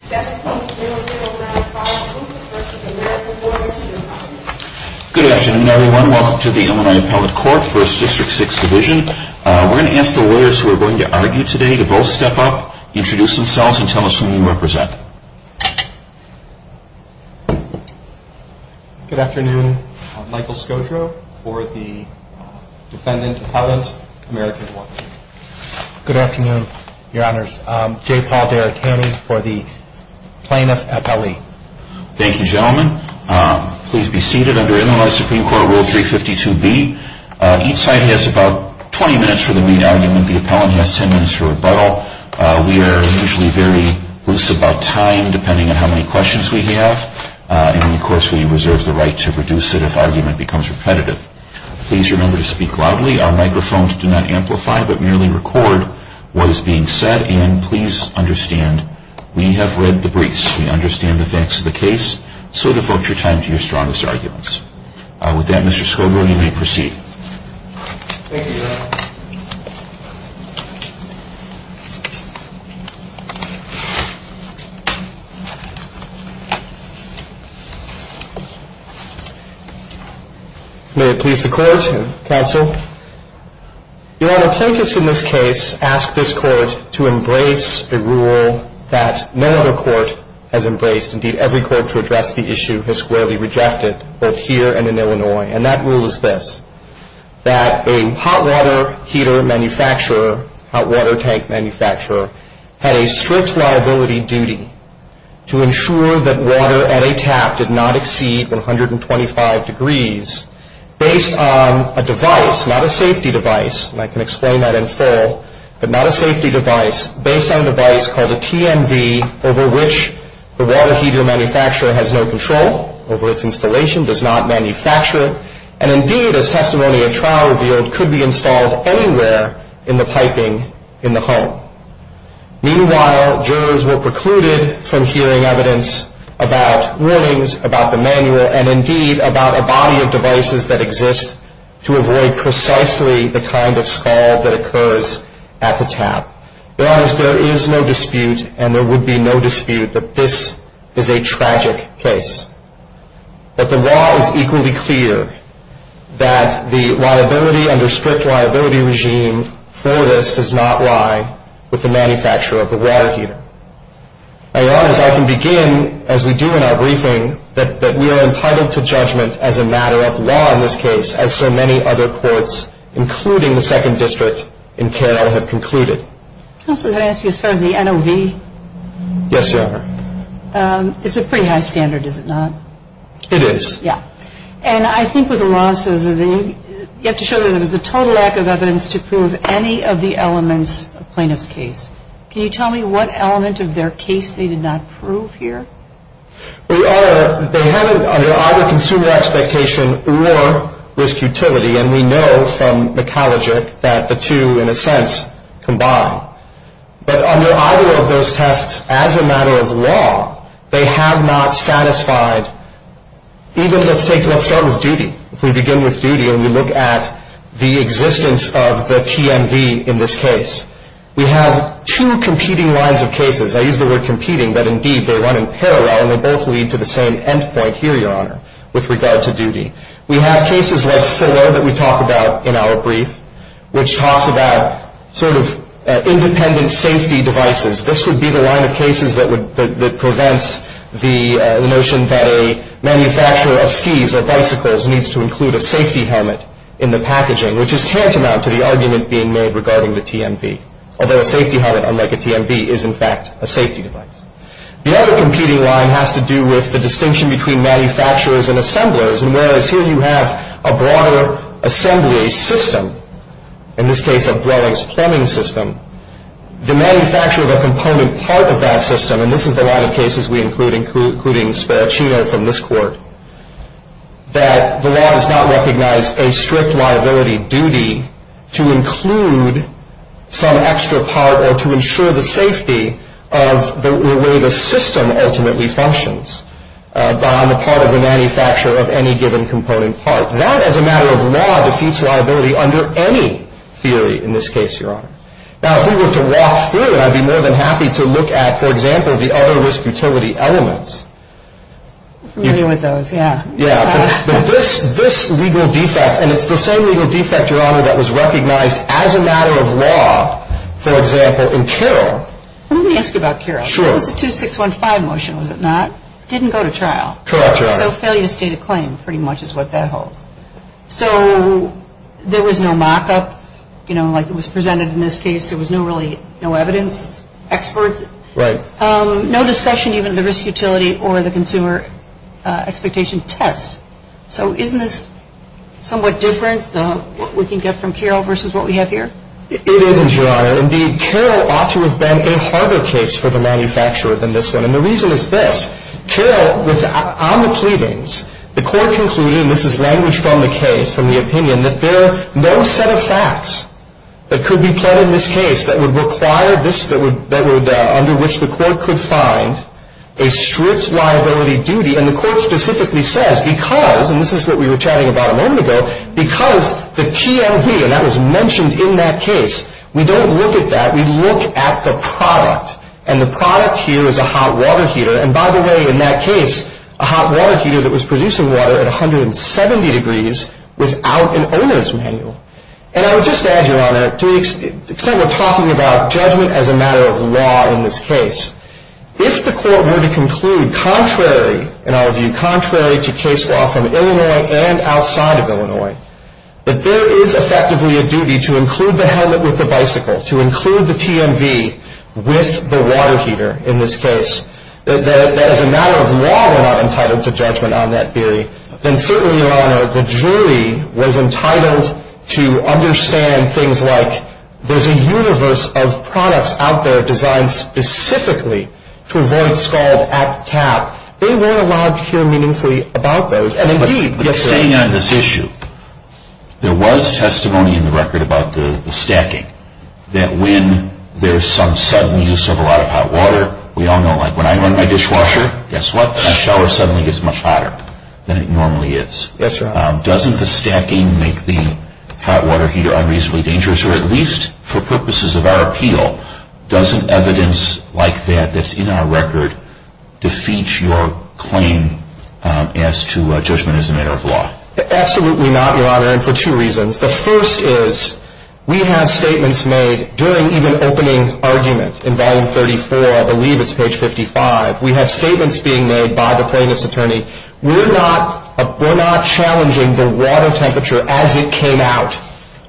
Good afternoon, everyone. Welcome to the Illinois Appellate Court, 1st District, 6th Division. We're going to ask the lawyers who are going to argue today to both step up, introduce themselves, and tell us who you represent. Good afternoon. I'm Michael Scotro for the defendant's appellate, American Water Heater. Good afternoon, your honors. I'm J. Paul Derricani for the plaintiff's appellate. Thank you, gentlemen. Please be seated under Illinois Supreme Court Rule 352B. Each side has about 20 minutes for the reading argument. The appellant has 10 minutes for rebuttal. We are usually very loose about time, depending on how many questions we have. And, of course, we reserve the right to reduce it if argument becomes repetitive. Please remember to speak loudly. Our microphones do not amplify, but merely record what is being said. And please understand, we have read the briefs. We understand the facts of the case. May it please the court and counsel. Your honor, plaintiffs in this case ask this court to embrace the rule that no other court has embraced. Indeed, every court to address the issue has squarely rejected, both here and in Illinois. And that rule is this, that a hot water heater manufacturer, hot water tank manufacturer, has a strict liability duty to ensure that water at a tap does not exceed 125 degrees, based on a device, not a safety device, and I can explain that in full, but not a safety device, based on a device called a TMV, over which the water heater manufacturer has no control over its installation, does not manufacture, and, indeed, a testimony at trial revealed could be installed anywhere in the piping in the home. Meanwhile, jurors were precluded from hearing evidence about Williams, about the manual, and, indeed, about a body of devices that exist to avoid precisely the kind of stall that occurs at the tap. Your honor, there is no dispute, and there would be no dispute, that this is a tragic case. But the law is equally clear, that the liability under strict liability regime for this does not lie with the manufacturer of the water heater. Your honor, I can begin, as we do in our briefing, that we are entitled to judgment as a matter of law in this case, as so many other courts, including the Second District in Carroll, have concluded. Counselor, may I ask you a question on the NOV? Yes, your honor. It's a pretty high standard, is it not? It is. Yeah. And I think what the law says is that you have to show that there is a total lack of evidence to prove any of the elements of plaintiff's case. Can you tell me what elements of their case they did not prove here? Your honor, they have it under either consumer expectation or risk utility, and we know from the college that the two, in a sense, combine. But under either of those tests, as a matter of law, they have not satisfied, even let's take what's done with duty. If we begin with duty and we look at the existence of the TMV in this case, we have two competing lines of cases. I use the word competing, but indeed they run in parallel, and they both lead to the same end point here, your honor, with regard to duty. We have cases less thorough that we talk about in our brief, which talks about sort of independent safety devices. This would be the line of cases that prevents the notion that a manufacturer of skis or bicycles needs to include a safety helmet in the packaging, which is tantamount to the argument being made regarding the TMV, although a safety helmet, unlike a TMV, is in fact a safety device. The other competing line has to do with the distinction between manufacturers and assemblers, and whereas here you have a broader assembly system, in this case a brawler's plumbing system, the manufacturer of a component part of that system, and this is the line of cases we include, including Sparaccino from this court, that the law does not recognize a strict liability duty to include some extra part or to ensure the safety of the way the system ultimately functions on the part of the manufacturer of any given component part. That, as a matter of law, defeats liability under any theory in this case, your honor. Now, if we were to walk through it, I'd be more than happy to look at, for example, the other risk utility elements. I agree with those, yeah. This legal defect, and it's the same legal defect, your honor, that was recognized as a matter of law, for example, in Kira. Let me ask you about Kira. Sure. The 2615 motion, was it not? Didn't go to trial. Correct, your honor. So a failure to state a claim, pretty much is what that holds. So there was no mock-up, you know, like was presented in this case. There was really no evidence, experts. Right. No discussion even of the risk utility or the consumer expectations test. So isn't this somewhat different, what we can get from Kira versus what we have here? It is, your honor. Indeed, Kira ought to have been a harder case for the manufacturer than this one. And the reason is this. Kira, on the pleadings, the court concluded, and this is language from the case, from the opinion, that there are no set of facts that could be put in this case that would require this, that would, under which the court could find a strict liability duty. And the court specifically says, because, and this is what we were chatting about a moment ago, because the TLB, and that was mentioned in that case, we don't look at that. We look at the product. And the product here is a hot water heater. And by the way, in that case, a hot water heater that was producing water at 170 degrees without an owner's manual. And I would just add, your honor, to the extent we're talking about judgment as a matter of law in this case, if the court were to conclude contrary, in our view, contrary to case law from Illinois and outside of Illinois, that there is effectively a duty to include the helmet with the bicycle, to include the TMV with the water heater in this case, that as a matter of law we're not entitled to judgment on that theory, then certainly, your honor, the jury was entitled to understand things like, there's a universe of products out there designed specifically to avoid scald at the tap. They weren't allowed to hear meaningfully about those. But you're saying on this issue, there was testimony in the record about the stacking, that when there's some sudden use of a lot of hot water, we all know like when I run my dishwasher, guess what, my shower suddenly gets much hotter than it normally is. Doesn't the stacking make the hot water heater unreasonably dangerous, or at least for purposes of our appeal, doesn't evidence like that, that's in our record, defeat your claim as to judgment as a matter of law? Absolutely not, your honor, and for two reasons. The first is, we have statements made during even opening arguments in volume 34, I believe it's page 55, we have statements being made by the plaintiff's attorney, we're not challenging the water temperature as it came out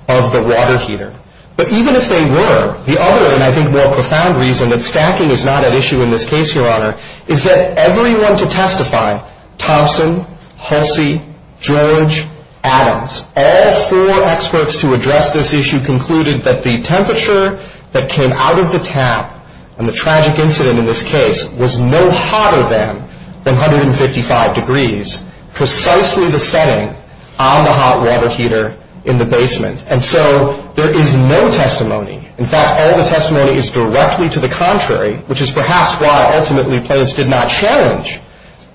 of the water heater. But even if they were, the other and I think more profound reason that stacking is not an issue in this case, your honor, is that everyone to testify, Thompson, Hulsey, George, Adams, all four experts to address this issue concluded that the temperature that came out of the tap, and the tragic incident in this case, was no hotter than 155 degrees, precisely the same on the hot water heater in the basement. And so there is no testimony. In fact, all the testimony is directly to the contrary, which is perhaps why ultimately plaintiffs did not challenge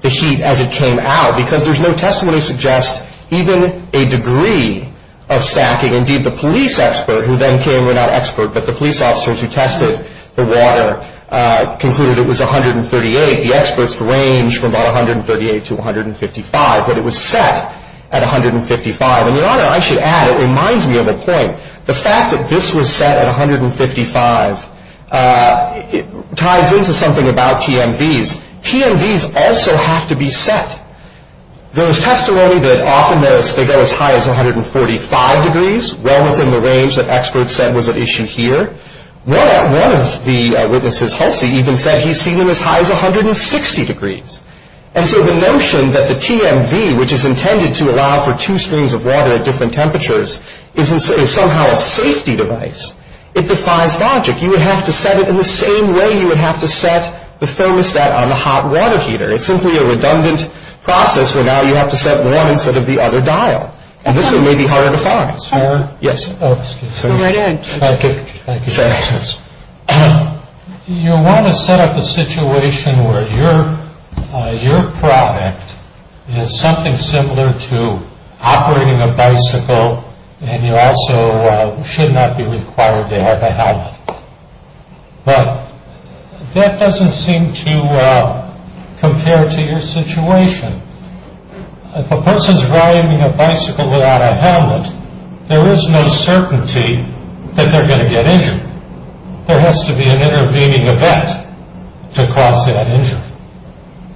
the heat as it came out, because there's no testimony to suggest even a degree of stacking. Indeed, the police expert who then came, well not expert, but the police officers who tested the water, concluded it was 138. The experts ranged from about 138 to 155, but it was set at 155. And your honor, I should add, it reminds me of a point. The fact that this was set at 155 ties into something about TMVs. TMVs also have to be set. There is testimony that often they're set as high as 145 degrees, well within the range that experts said was at issue here. One of the witnesses, Hulsey, even said he's seen them as high as 160 degrees. And so the notion that the TMV, which is intended to allow for two streams of water at different temperatures, is somehow a safety device, it defies logic. You would have to set it in the same way you would have to set the thermostat on the hot water heater. It's simply a redundant process where now you have to set one instead of the other dial. And this one may be harder to find. Yes. Thank you. You want to set up a situation where your product is something similar to operating a bicycle and you also should not be required to have a helmet. But that doesn't seem to compare to your situation. If a person is riding a bicycle without a helmet, there is no certainty that they're going to get injured. There has to be an intervening event to cause that injury.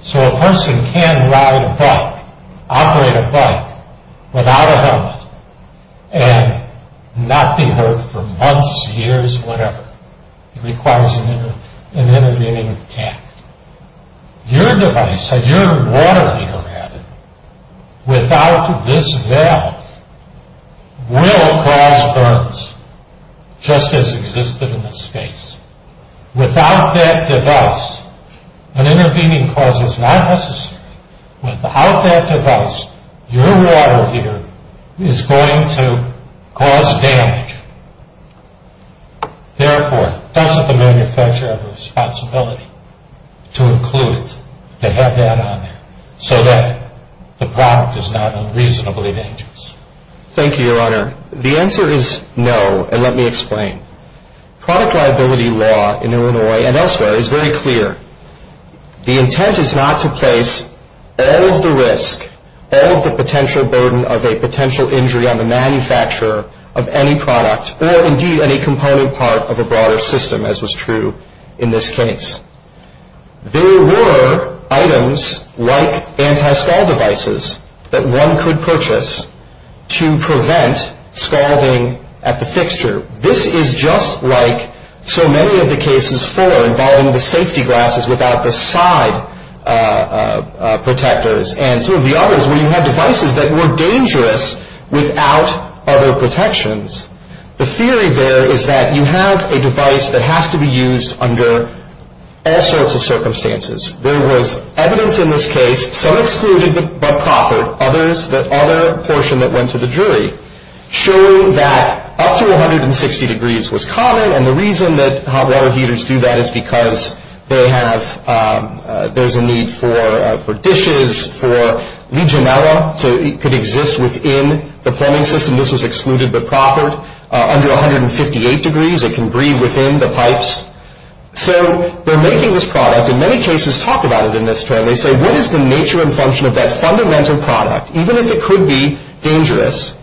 So a person can ride a bike, operate a bike, without a helmet, and not be hurt for months, years, whatever. It requires an intervening event. Your device, or your water heater, rather, without this valve, will cause burns, just as existed in this space. Without that device, an intervening process like this, without that device, your water heater is going to cause damage. Therefore, doesn't the manufacturer have a responsibility to include to have that on there so that the product is not unreasonably dangerous? Thank you, Your Honor. The answer is no, and let me explain. Product liability law, in Illinois and elsewhere, is very clear. The intent is not to place all of the risk, all of the potential burden of a potential injury on the manufacturer of any product or, indeed, any component part of a broader system, as was true in this case. There were items like anti-scald devices that one could purchase to prevent scalding at the fixture. This is just like so many of the cases for involving the safety glasses without the side protectors, and some of the others where you have devices that were dangerous without other protections. The theory there is that you have a device that has to be used under all sorts of circumstances. There was evidence in this case, some excluded the copper. Others, the other portion that went to the jury, showed that up to 160 degrees was common, and the reason that hot water heaters do that is because there's a need for dishes, for legionella, so it could exist within the plumbing system. This was excluded, but copper, under 158 degrees, it can breathe within the pipes. So they're making this product, and many cases talk about it in this term. They say, what is the nature and function of that fundamental product? Even if it could be dangerous,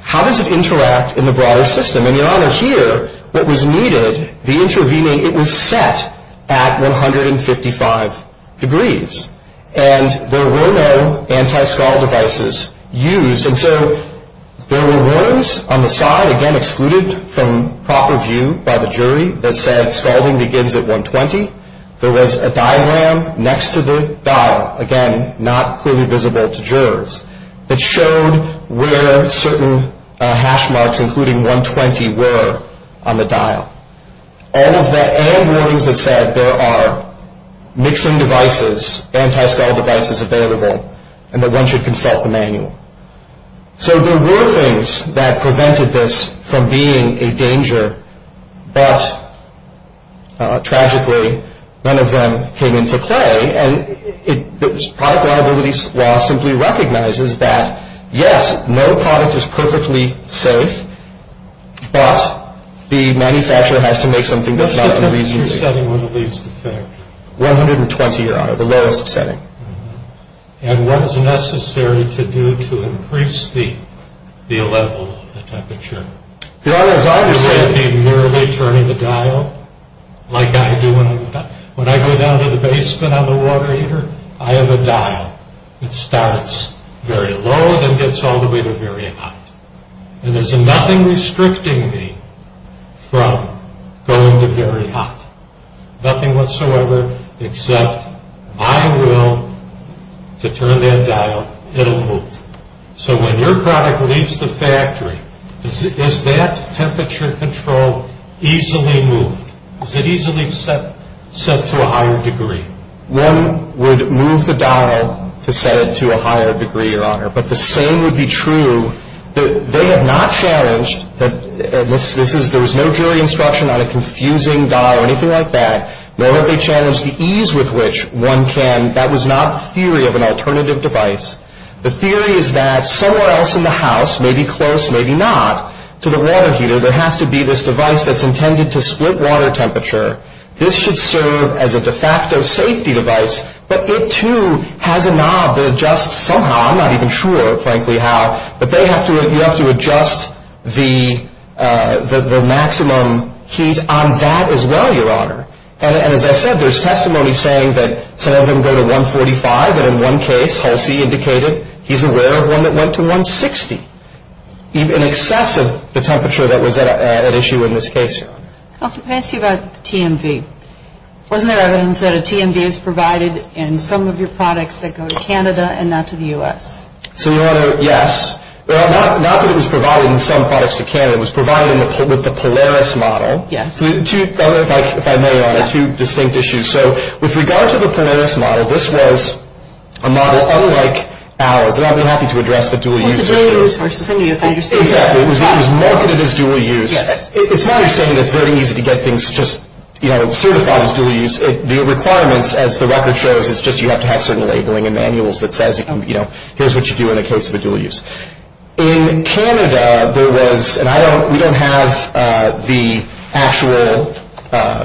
how does it interact in the broader system? In your honor, here, what was needed, the intervening, it was set at 155 degrees, and there were no anti-scald devices used, and so there were words on the side, again, excluded from proper view by the jury that said scalding begins at 120. There was a diagram next to the dial, again, not clearly visible to jurors, but showed where certain hash marks, including 120, were on the dial. All of that, and warnings that said there are mixing devices, anti-scald devices available, and that one should consult the manual. So there were things that prevented this from being in danger, but, tragically, none of them came into play, and our viability law simply recognizes that, yes, no product is perfectly safe, but the manufacturer has to make something that's not in reasonable danger. What's the temperature setting when it leaves the thing? 120, your honor, the lowest setting. And what is necessary to do to increase the level of temperature? Your honor, as I understand it, you're merely turning the dial. Like I do when I go down to the basement on the water heater, I have a dial. It starts very low, then gets all the way to very high. And there's nothing restricting me from going to very high. Nothing whatsoever except my will to turn that dial. It'll move. So when your product leaves the factory, is that temperature control easily moved? Is it easily set to a higher degree? One would move the dial to set it to a higher degree, your honor, but the same would be true. They have not challenged. There was no jury instruction on a confusing dial or anything like that. Nor have they challenged the ease with which one can. That was not the theory of an alternative device. The theory is that somewhere else in the house, maybe close, maybe not, to the water heater, there has to be this device that's intended to split water temperature. This should serve as a de facto safety device. But it, too, has a knob that adjusts somehow. I'm not even sure, frankly, how. But you have to adjust the maximum heat on that as well, your honor. As I said, there's testimony saying that some of them go to 145, and in one case, Halsey indicated he's aware of one that went to 160, in excess of the temperature that was at issue in this case. Let me ask you about TMV. Wasn't there evidence that a TMV is provided in some of your products that go to Canada and not to the U.S.? Yes. Not that it was provided in some parts to Canada. It was provided with the Polaris model. Yes. If I may, I have two distinct issues. So with regard to the Polaris model, this was a model unlike ours. And I'll be happy to address the dual-use issue. It was marketed as dual-use. It's not to say that it's very easy to get things just certified as dual-use. The requirements, as the record shows, is just you have to have some labeling and manuals that says, here's what you do in the case of a dual-use. In Canada, there was, and we don't have the actual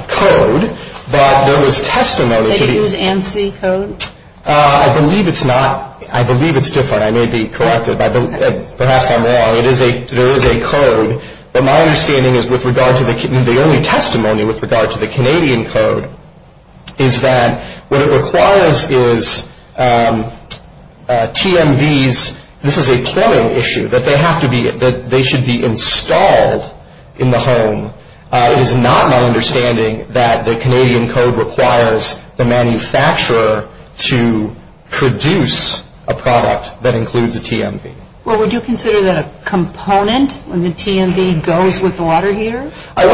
code, but there was testimony. They use ANSI code? I believe it's not. I believe it's different. I may be correct. Perhaps I'm wrong. There is a code. But my understanding is with regard to the only testimony with regard to the Canadian code is that what it requires is TMVs. This is a clearing issue, that they should be installed in the home. It is not my understanding that the Canadian code requires the manufacturer to produce a product that includes a TMV. Well, would you consider that a component of the TMV goes with the water heater? No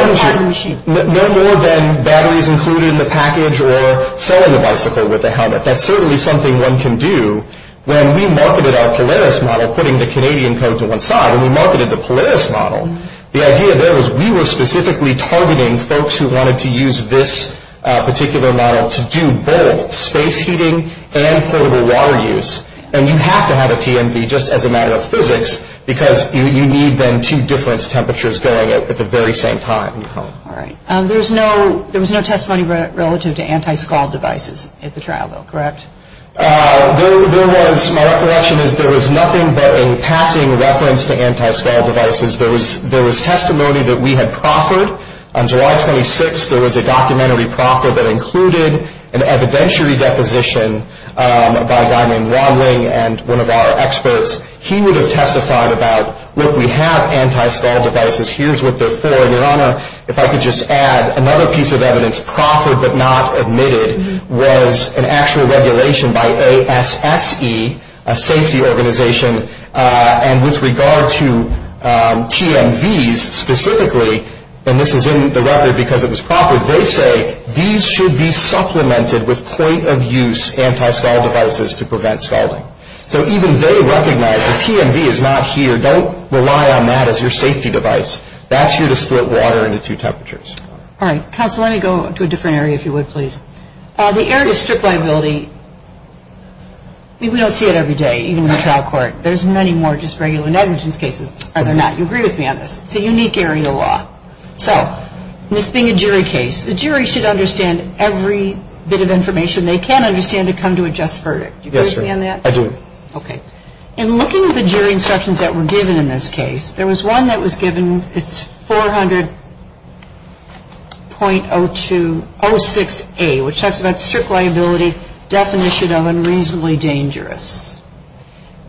more than batteries included in the package or filling the bicycle with a helmet. That's certainly something one can do. When we marketed our Polaris model, putting the Canadian code to one side, and we marketed the Polaris model, the idea there was we were specifically targeting folks who wanted to use this particular model to do both space heating and portable water use, and you have to have a TMV just as a matter of physics because you need them two different temperatures going at the very same time. All right. There was no testimony relative to anti-scald devices at the trial, though, correct? There was. My recollection is there was nothing but a passing reference to anti-scald devices. There was testimony that we had proffered. On July 26th, there was a documentary proffer that included an evidentiary deposition by Ryman Romling and one of our experts. He would have testified about, look, we have anti-scald devices. Here's what they're for. If I could just add, another piece of evidence proffered but not admitted was an actual regulation by ASFE, a safety organization, and with regard to TMVs specifically, and this is in the record because it was proffered, they say these should be supplemented with point-of-use anti-scald devices to prevent scalding. So even they recognize the TMV is not here. Don't rely on that as your safety device. That's your to split water into two temperatures. All right. Counsel, let me go to a different area, if you would, please. The area of strict liability, we don't see it every day, even in the trial court. There's many more just regular negligence cases. Are there not? You agree with me on this. It's a unique area of law. So this being a jury case, the jury should understand every bit of information they can understand to come to a just verdict. Do you understand that? I do. Okay. In looking at the jury instructions that were given in this case, there was one that was given. It's 400.06A, which talks about strict liability, definition of and reasonably dangerous.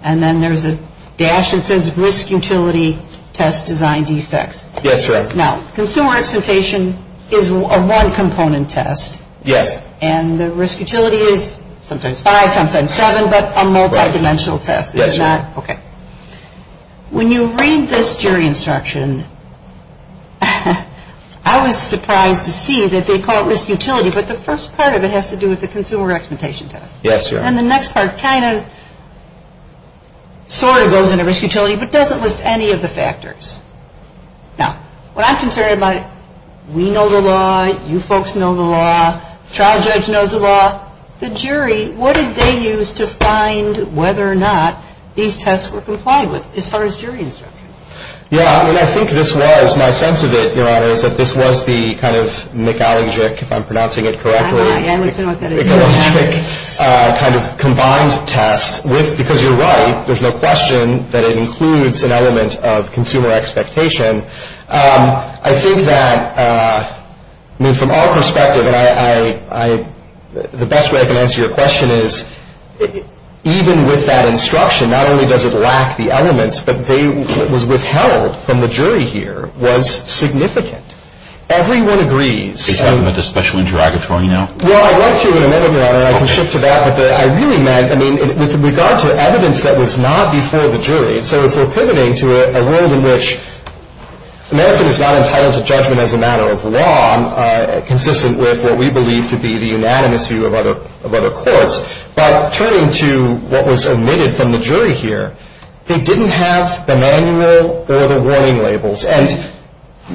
And then there's a dash that says risk utility test design defects. Yes, correct. Now, consumer expectation is a one-component test. Yes. And the risk utility is sometimes five, sometimes seven, but a multidimensional test. Yes. Okay. When you read this jury instruction, I was surprised to see that they call it risk utility, but the first part of it has to do with the consumer expectation test. Yes. And the next part kind of sort of goes into risk utility but doesn't list any of the factors. Now, what I'm concerned about, we know the law, you folks know the law, trial judge knows the law. The jury, what did they use to find whether or not these tests were complied with as far as jury instructions? Yes. I think this was, my sense of it, your Honor, is that this was the kind of megalogic, if I'm pronouncing it correctly. I understand what that is. It's a megalogic kind of combined test, because you're right, there's no question that it includes an element of consumer expectation. I think that, I mean, from our perspective, the best way I can answer your question is even with that instruction, not only does it lack the elements, but what was withheld from the jury here was significant. Everyone agrees. Are you talking about the special interrogatory now? Well, I'd like to, and maybe I'll shift to that, but I really meant, I mean, with regard to evidence that was not before the jury, so if we're pivoting to a world in which an answer is not as high as a judgment as a matter of law, consistent with what we believe to be the unanimous view of other courts, by turning to what was omitted from the jury here, they didn't have the manual or the warning labels. And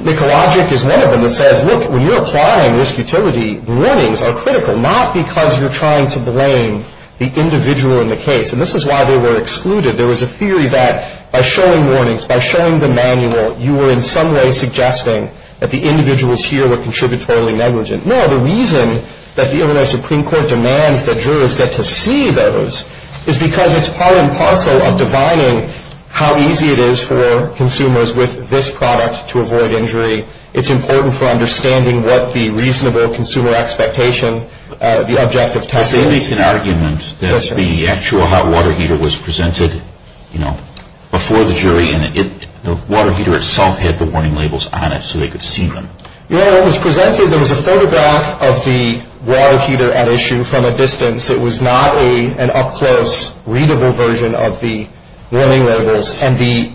megalogic is one of them that says, look, when you're applying risk utility, warnings are critical, not because you're trying to blame the individual in the case. And this is why they were excluded. There was a theory that by showing warnings, by showing the manual, you were in some way suggesting that the individuals here were contributory negligent. No, the reason that the Illinois Supreme Court demands that jurors get to see those is because it's part and parcel of defining how easy it is for consumers with this product to avoid injury. It's important for understanding what the reasonable consumer expectation, the objective test is. There's an argument that the actual hot water heater was presented, you know, before the jury, and the water heater itself had the warning labels on it so they could see them. Yeah, it was presented. There was a photograph of the water heater at issue from a distance. It was not an up-close, readable version of the warning labels. And the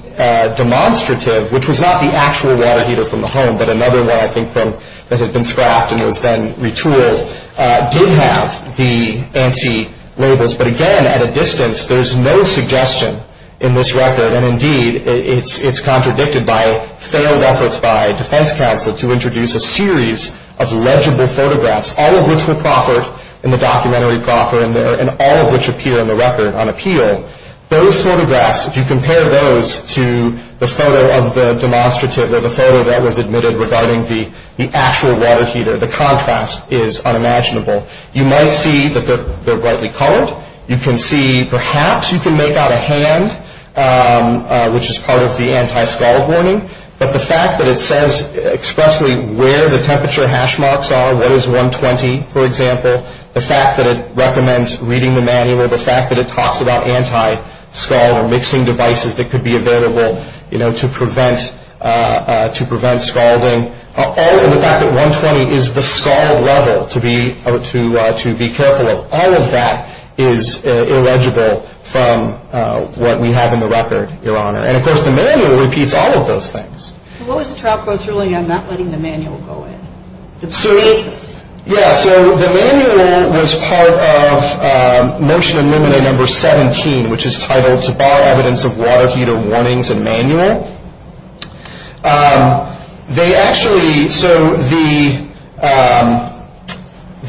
demonstrative, which was not the actual water heater from the home, but another one I think that had been scrapped and was then retooled, did have the anti-labels. But, again, at a distance, there's no suggestion in this record. And, indeed, it's contradicted by failed efforts by Defense Counsel to introduce a series of legible photographs, all of which were proffered in the documentary, and all of which appear in the record on appeal. Those photographs, if you compare those to the photo of the demonstrative or the photo that was admitted regarding the actual water heater, the contrast is unimaginable. You might see that they're brightly colored. You can see perhaps you can make out a hand, which is part of the anti-scar warning. But the fact that it says expressly where the temperature hash marks are, what is 120, for example, the fact that it recommends reading the manual, the fact that it talks about anti-scar mixing devices that could be available to prevent scalding, the fact that 120 is the scar level to be careful of, all of that is illegible from what we have in the record, Your Honor. And, of course, the manual repeats all of those things. What was the trial court ruling on not letting the manual go in? So the manual was part of Motion Illumina No. 17, which is titled, To Bar Evidence of Water Heater Warnings and Manual. They actually, so the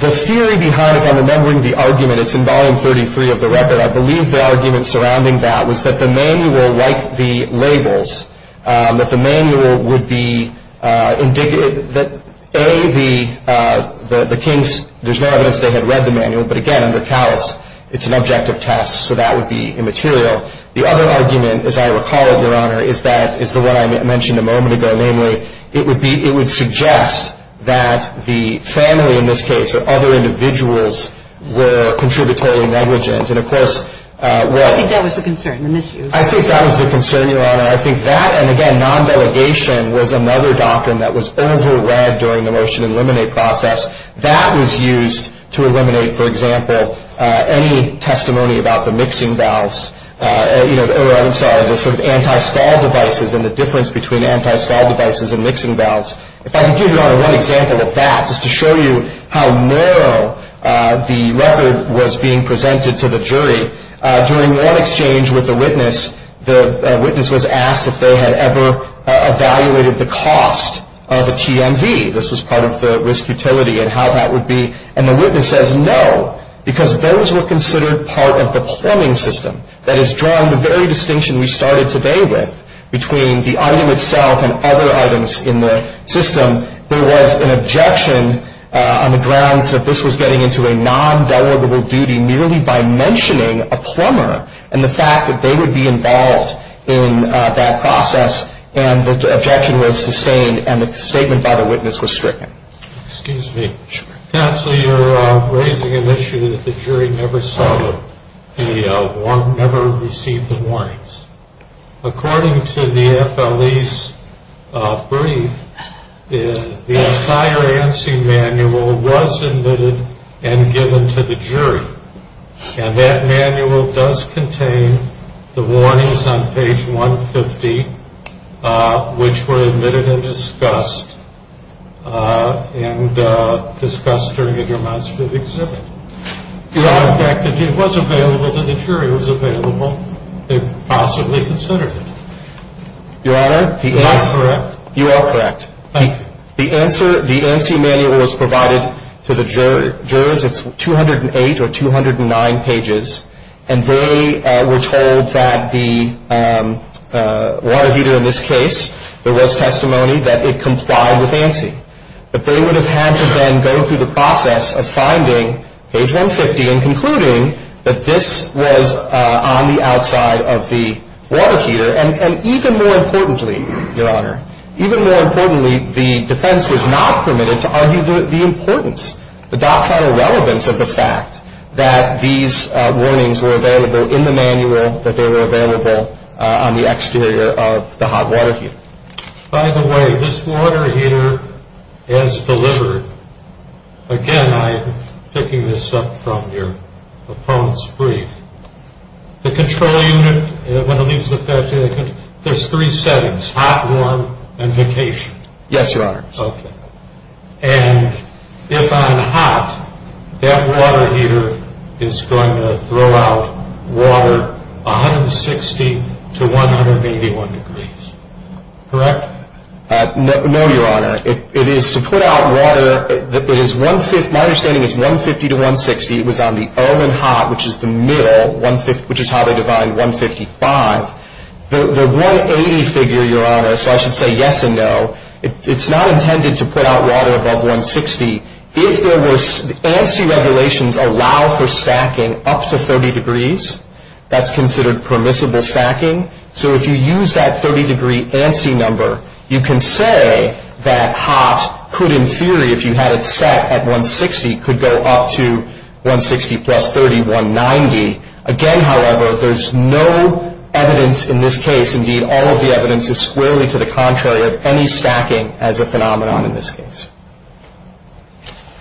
theory behind it, I'm remembering the argument, it's in Volume 33 of the record, I believe the argument surrounding that was that the manual, like the labels, that the manual would be indignant that, A, the case, there's no evidence they had read the manual, but, again, they're tallies. It's an objective test, so that would be immaterial. The other argument, as I recall, Your Honor, is the one I mentioned a moment ago. Namely, it would suggest that the family, in this case, or other individuals were contributory negligence. And, of course, what- I think that was the concern. I think that was the concern, Your Honor. I think that, and, again, non-delegation was another doctrine that was over-read during the Motion Illuminate process. That was used to eliminate, for example, any testimony about the mixing valves, or, I'm sorry, the sort of anti-stall devices and the difference between anti-stall devices and mixing valves. If I could give you another one example of that, just to show you how narrow the letter was being presented to the jury. During one exchange with the witness, the witness was asked if they had ever evaluated the cost of a TMV. This was part of the risk utility and how that would be. And the witness says no, because those were considered part of the plumbing system. That is drawing the very distinction we started today with between the item itself and other items in the system. There was an objection on the grounds that this was getting into a non-delegable duty merely by mentioning a plumber and the fact that they would be involved in that process. And the objection was sustained and the statement by the witness was stricken. Excuse me. Counsel, you're raising an issue that the jury never saw it. They never received the warnings. According to the FLE's brief, the entire ANSI manual was admitted and given to the jury. And that manual does contain the warnings on page 150, which were admitted and discussed during the months of the exhibit. Your Honor, the fact that it was available to the jury was available. They possibly considered it. Your Honor, you are correct. The ANSI manual was provided to the jurors. It's 208 or 209 pages. And they were told that the water heater in this case, there was testimony that it complied with ANSI. But they would have had to then go through the process of finding page 150 and concluding that this was on the outside of the water heater. And even more importantly, Your Honor, even more importantly, the defense was not permitted to argue the importance, the doctrinal relevance of the fact that these warnings were available in the manual, that they were available on the exterior of the hot water heater. By the way, this water heater is delivered. Again, I'm picking this up from your phone's brief. The control unit, there's three settings, hot, warm, and vacation. Yes, Your Honor. Okay. And if I'm hot, that water heater is going to throw out water 160 to 181 degrees. Correct? No, Your Honor. It is to put out water that is 150 to 160. It was on the L in hot, which is the middle, which is how they divide 155. The 180 figure, Your Honor, so I should say yes and no, it's not intended to put out water above 160. If there was ANSI revelations allow for stacking up to 30 degrees, that's considered permissible stacking. So if you use that 30-degree ANSI number, you can say that hot could, in theory, if you had it set at 160, could go up to 160 plus 30, 190. Again, however, there's no evidence in this case, indeed, all of the evidence is squarely to the contrary of any stacking as a phenomenon in this case.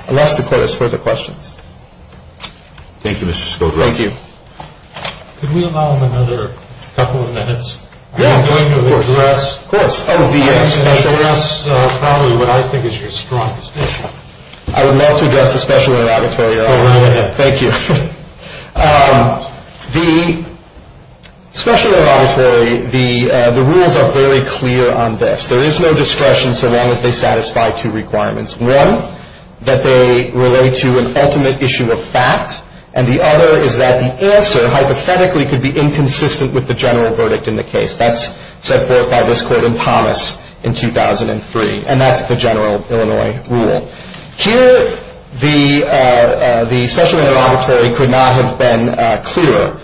I'll ask the court if there's further questions. Thank you, Mr. Schovanec. Thank you. Could we allow another couple of minutes? Of course. I would be happy to address probably what I think is your strongest issue. I would love to address the special auditorium. Thank you. The special auditorium, the rules are very clear on this. There is no discretion so long as they satisfy two requirements. One, that they relate to an ultimate issue of fact, and the other is that the answer hypothetically could be inconsistent with the general verdict in the case. That's set forth by this court in Thomas in 2003, and that's the general Illinois rule. Here, the special auditorium could not have been clearer.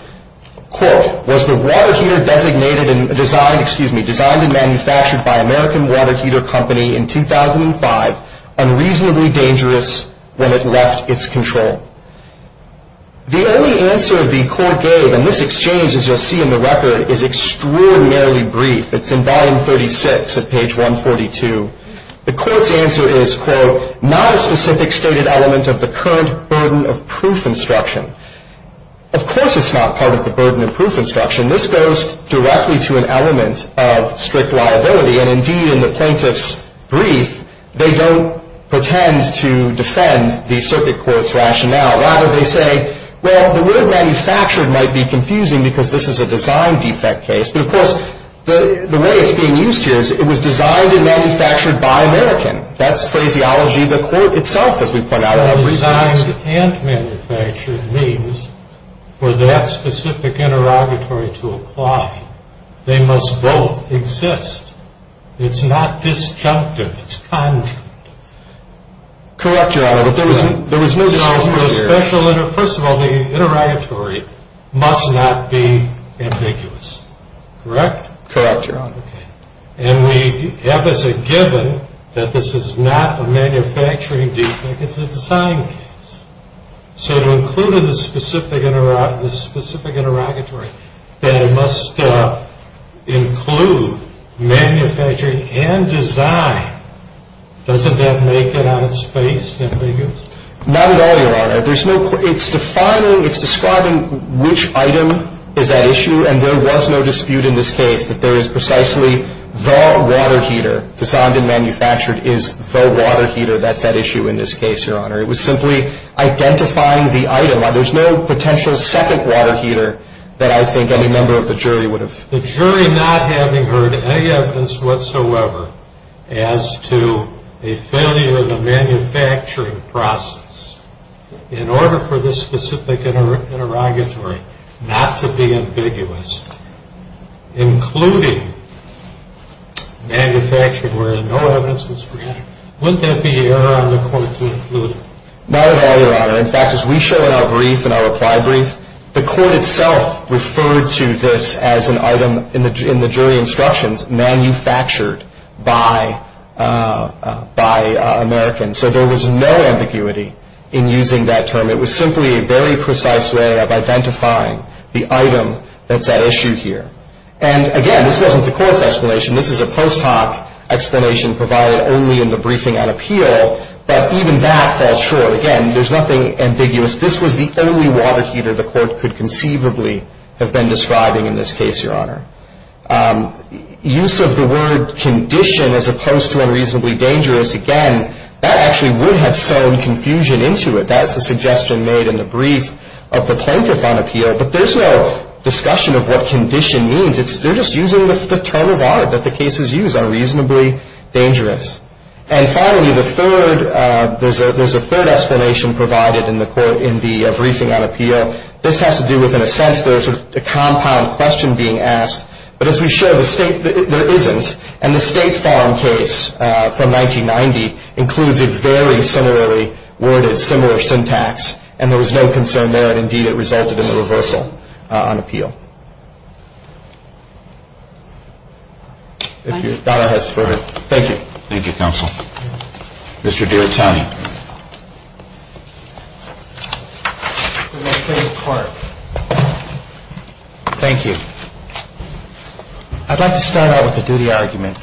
Quote, was the water heater designed and manufactured by American Water Heater Company in 2005 and reasonably dangerous when it left its control? The only answer the court gave, and this exchange, as you'll see in the record, is extraordinarily brief. It's in volume 36 of page 142. The court's answer is, quote, not a specific stated element of the current burden of proof instruction. Of course it's not part of the burden of proof instruction. This goes directly to an element of strict liability, and indeed, in the plaintiff's brief, they don't pretend to defend the circuit court's rationale. Rather, they say, well, the word manufactured might be confusing because this is a design defect case, but, of course, the way it's being used is it was designed and manufactured by American. That's phraseology of the court itself that we've come out of. Designed and manufactured means for that specific interrogatory to apply. They must both exist. It's not disjunctive. It's conjured. Correct, Your Honor, but there was no disjuncture here. First of all, the interrogatory must not be ambiguous. Correct? Correct, Your Honor. And we have as a given that this is not a manufacturing defect. It's a design case. So to include in the specific interrogatory that it must include manufactured and designed, doesn't that make it out of space and ambiguous? Not at all, Your Honor. It's defining, it's describing which item is at issue, and there was no dispute in this case that there is precisely the water heater. Designed and manufactured is the water heater that's at issue in this case, Your Honor. It was simply identifying the item. Now, there's no potential second water heater that I think any member of the jury would have. The jury not having heard any evidence whatsoever as to a failure of the manufacturing process, in order for this specific interrogatory not to be ambiguous, including manufactured where there's no evidence was presented, wouldn't that be error on the court's part? No, Your Honor. In fact, as we show in our brief, in our reply brief, the court itself referred to this as an item in the jury instructions manufactured by Americans. So there was no ambiguity in using that term. It was simply a very precise way of identifying the item that's at issue here. And again, this wasn't the court's explanation. This is a post hoc explanation provided only in the briefing on appeal, but even that falls short. Again, there's nothing ambiguous. This was the only water heater the court could conceivably have been describing in this case, Your Honor. Use of the word condition as opposed to unreasonably dangerous, again, that actually would have thrown confusion into it. That's a suggestion made in the brief of the plaintiff on appeal, but there's no discussion of what condition means. They're just using the term of honor that the cases use, unreasonably dangerous. And finally, there's a third explanation provided in the briefing on appeal. This has to do with, in a sense, there's a compound question being asked, but as we show, there isn't. And the state's filing case from 1990 includes a very similarly worded, similar syntax, and there was no concern there, and indeed it resulted in a reversal on appeal. Thank you. Thank you, counsel. Mr. Duratani. Thank you. I'd like to start out with a duty argument.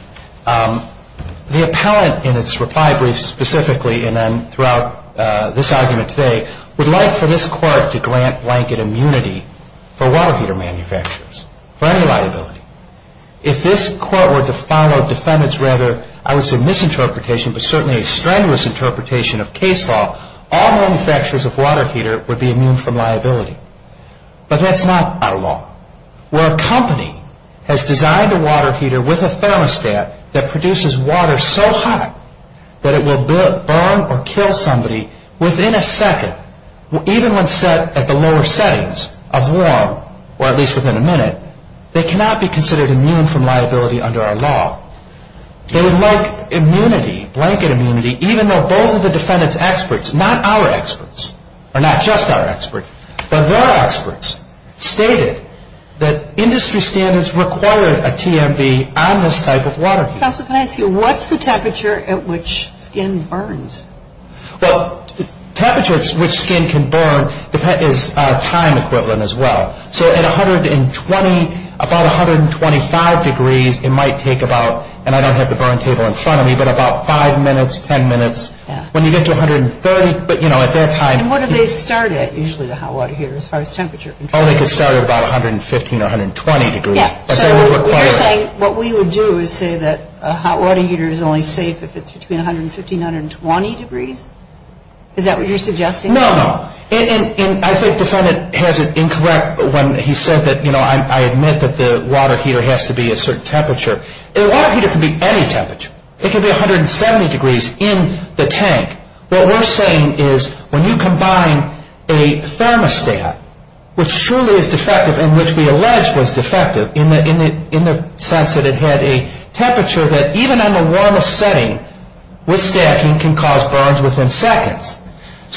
The appellant in its reply brief specifically and then throughout this argument today would like for this court to grant blanket immunity for water heater manufacturers, for any liability. If this court were to file a defendant's rather, I would say, misinterpretation, but certainly a strenuous interpretation of case law, all manufacturers of water heater would be immune from liability. But that's not out of law. Where a company has designed a water heater with a thermostat that produces water so hot that it will burn or kill somebody within a second, even when set at the lower settings of warm, or at least within a minute, they cannot be considered immune from liability under our law. They would like immunity, blanket immunity, even though both of the defendant's experts, not our experts, or not just our experts, but their experts, stated that industry standards required a TMV on this type of water heater. Counsel, can I ask you, what's the temperature at which skin burns? Well, temperature at which skin can burn is time equivalent as well. So at 120, about 125 degrees, it might take about, and I don't have the burn meter in front of me, but about 5 minutes, 10 minutes. When you get to 130, but, you know, at that time. And what do they start at, usually, the hot water heater, as far as temperature? I think they start at about 115, 120 degrees. Yes. What we would do is say that a hot water heater is only safe if it's between 115, 120 degrees. Is that what you're suggesting? No. And I think the defendant has it incorrect when he said that, you know, I admit that the water heater has to be a certain temperature. A water heater can be any temperature. It can be 170 degrees in the tank. What we're saying is when you combine a thermostat, which surely is defective, and which we allege was defective in the sense that it had a temperature that, even on the warmest setting, with scatching, can cause burns within seconds.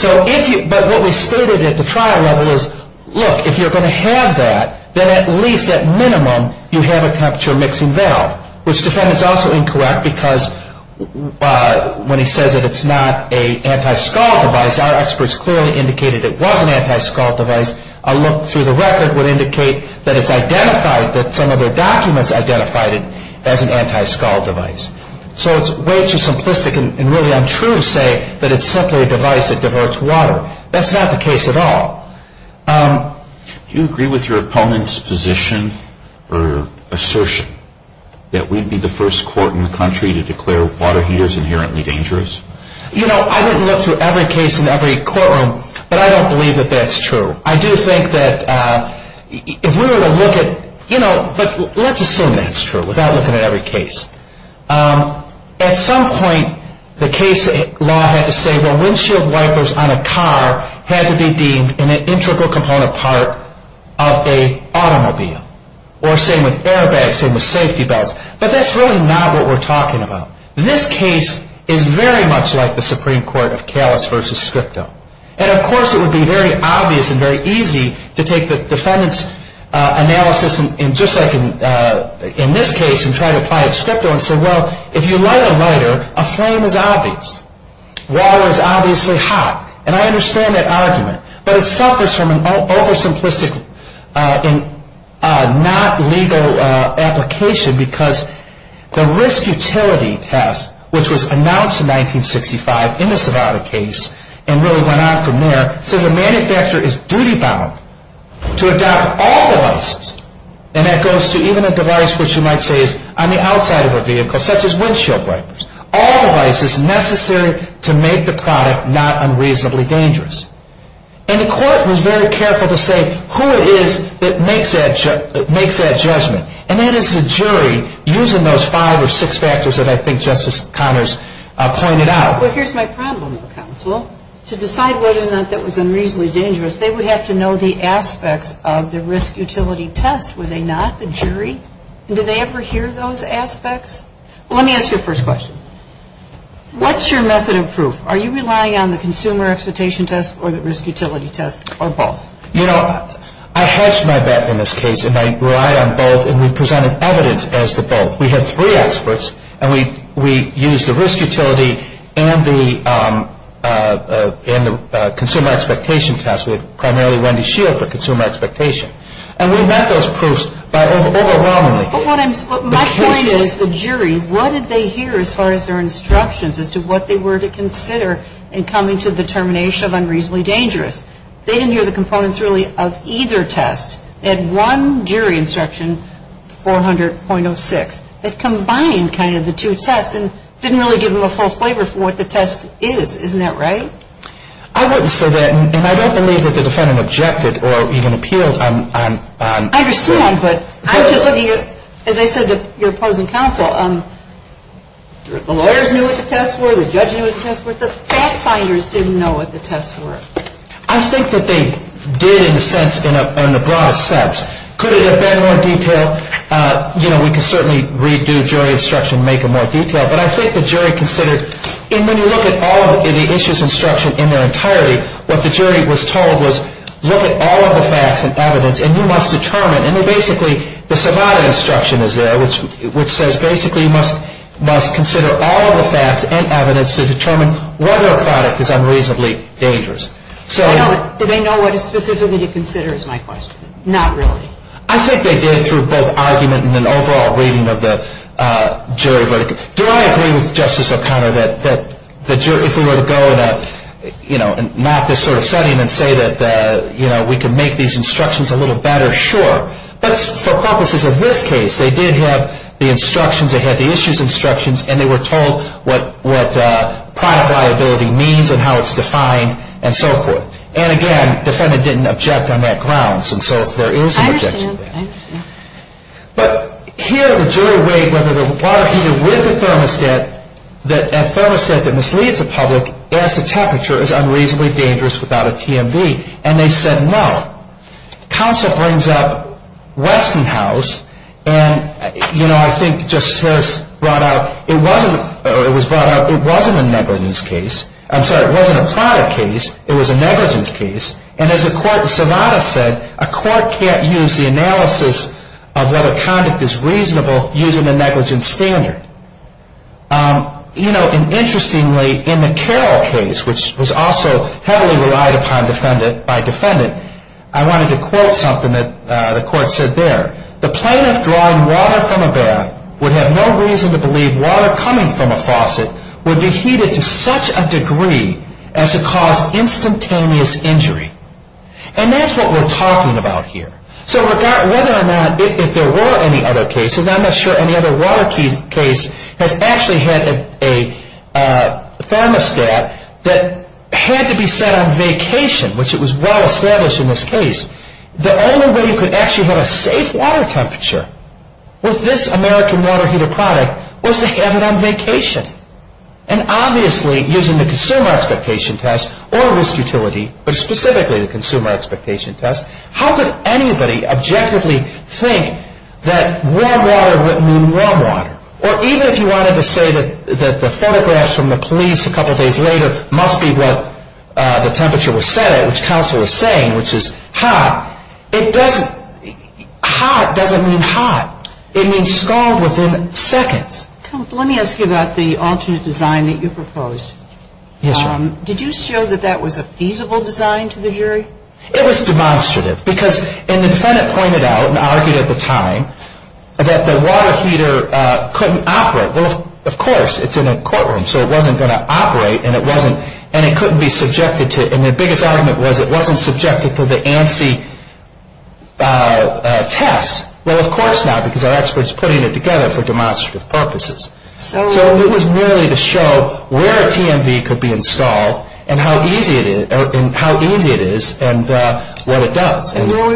But what we stated at the trial level is, look, if you're going to have that, then at least, at minimum, you have a temperature mixing valve, which the defendant is also incorrect because when he says that it's not an anti-scald device, our experts clearly indicated it was an anti-scald device. A look through the record would indicate that it's identified, that some of the documents identified it as an anti-scald device. So it's way too simplistic and really untrue to say that it's simply a device that diverts water. That's not the case at all. Do you agree with your opponent's position or assertion that we'd be the first court in the country to declare water heaters inherently dangerous? You know, I didn't look through every case in every courtroom, but I don't believe that that's true. I do think that if we were to look at, you know, let's assume that it's true without looking at every case. At some point, the case law had to say the windshield wipers on a car had to be deemed an integral component part of an automobile, or same with airbags, same with safety belts. But that's really not what we're talking about. This case is very much like the Supreme Court of Callis v. Scripto. And, of course, it would be very obvious and very easy to take the defendant's analysis just like in this case and try to apply it to Scripto and say, well, if you light a lighter, a flame is obvious. Water is obviously hot. And I understand that argument, but it suffers from an oversimplistic and not legal application because the risk utility test, which was announced in 1965 in the Savannah case and really went on from there, says a manufacturer is duty-bound to adopt all devices, and that goes to even a device which you might say is on the outside of a vehicle, such as windshield wipers, all devices necessary to make the product not unreasonably dangerous. And the court was very careful to say who it is that makes that judgment, and that is the jury using those five or six factors that I think Justice Connors pointed out. Well, here's my problem with counsel. To decide whether or not that was unreasonably dangerous, they would have to know the aspects of the risk utility test, would they not, the jury? Do they ever hear those aspects? Let me ask you the first question. What's your method of proof? Are you relying on the consumer expectation test or the risk utility test or both? You know, I hedged my bet in this case, and I relied on both, and we presented evidence as to both. We had three experts, and we used the risk utility and the consumer expectation test with primarily Wendy Shields for consumer expectation. And we met those proofs by overwhelming. But my point is, the jury, what did they hear as far as their instructions as to what they were to consider in coming to the determination of unreasonably dangerous? They didn't hear the components really of either test. They had one jury instruction, 400.06, that combined kind of the two tests and didn't really give them a full flavor for what the test is. Isn't that right? I wouldn't say that, and I don't believe that the defendant objected or even appealed. I understand, but as I said to your opposing counsel, the lawyers knew what the tests were, the judge knew what the tests were, but the fact-finders didn't know what the tests were. I think that they did, in a sense, in a broad sense. Could it have been more detailed? You know, we could certainly redo jury instruction and make it more detailed, but I think the jury considered, and when you look at all of the issues in instruction in their entirety, what the jury was told was look at all of the facts and evidence, and you must determine, and then basically the survival instruction is there, which says basically you must consider all of the facts and evidence to determine whether a product is unreasonably dangerous. Do they know what specifically to consider is my question? Not really. I think they did through both argument and an overall reading of the jury verdict. Do I agree with Justice O'Connor that if we were to go and map this sort of setting and say that we can make these instructions a little better? Sure. But for purposes of this case, they did have the instructions, and they were told what product liability means and how it's defined and so forth. And again, the defendant didn't object on that grounds, and so there is an objection there. I understand. But here the jury weighed whether the water heater with a thermostat, that thermostat that misleads the public as to temperature is unreasonably dangerous without a TMD, and they said no. Counsel brings up Weston House, and I think Justice Harris brought up it wasn't a negligence case. I'm sorry, it wasn't a product case. It was a negligence case. And as the court in Savannah said, a court can't use the analysis of whether conduct is reasonable using a negligence standard. Interestingly, in the Carroll case, which was also heavily relied upon by defendants, I wanted to quote something that the court said there. The plaintiff drawing water from a bath would have no reason to believe water coming from a faucet would be heated to such a degree as to cause instantaneous injury. And that's what we're talking about here. So whether or not, if there were any other cases, I'm not sure any other water case has actually had a thermostat that had to be set on vacation, which it was well established in this case, the only way you could actually get a safe water temperature with this American water heater product was to have it on vacation. And obviously, using the consumer expectation test or risk utility, but specifically the consumer expectation test, how could anybody objectively think that warm water would mean warm water? Or even if you wanted to say that the photographs from the police a couple days later must be what the temperature was set at, which counsel is saying, which is hot. It doesn't. Hot doesn't mean hot. It means cold within seconds. Let me ask you about the altitude design that you proposed. Did you show that that was a feasible design to the jury? It was demonstrative because an infendant pointed out and argued at the time that the water heater couldn't operate. Well, of course, it's in a courtroom, so it wasn't going to operate, and it couldn't be subjected to it. And the biggest argument was it wasn't subjected to the ANSI test. Well, of course not, because our expert's putting it together for demonstrative purposes. So it was merely to show where a TMV could be installed and how easy it is and what it does.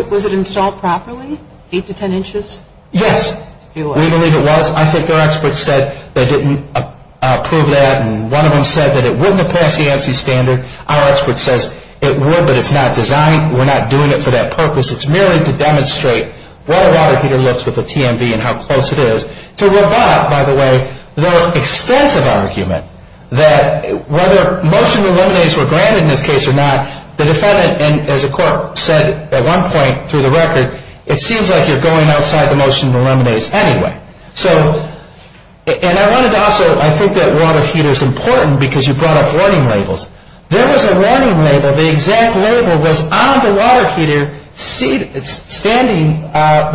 Was it installed properly, 8 to 10 inches? Yes, we believe it was. I think our expert said they didn't approve that, and one of them said that it wouldn't have passed the ANSI standard. Our expert says it would, but it's not designed, we're not doing it for that purpose. It's merely to demonstrate what a water heater looks like with a TMV and how close it is. To revoke, by the way, the extensive argument that whether motion to eliminate were granted in this case or not, the defendant, as a court, said at one point through the record, it seems like you're going outside the motion to eliminate anyway. So, and I wanted to also, I think that water heater is important because you brought up warning labels. There was a warning label, the exact label was on the water heater, standing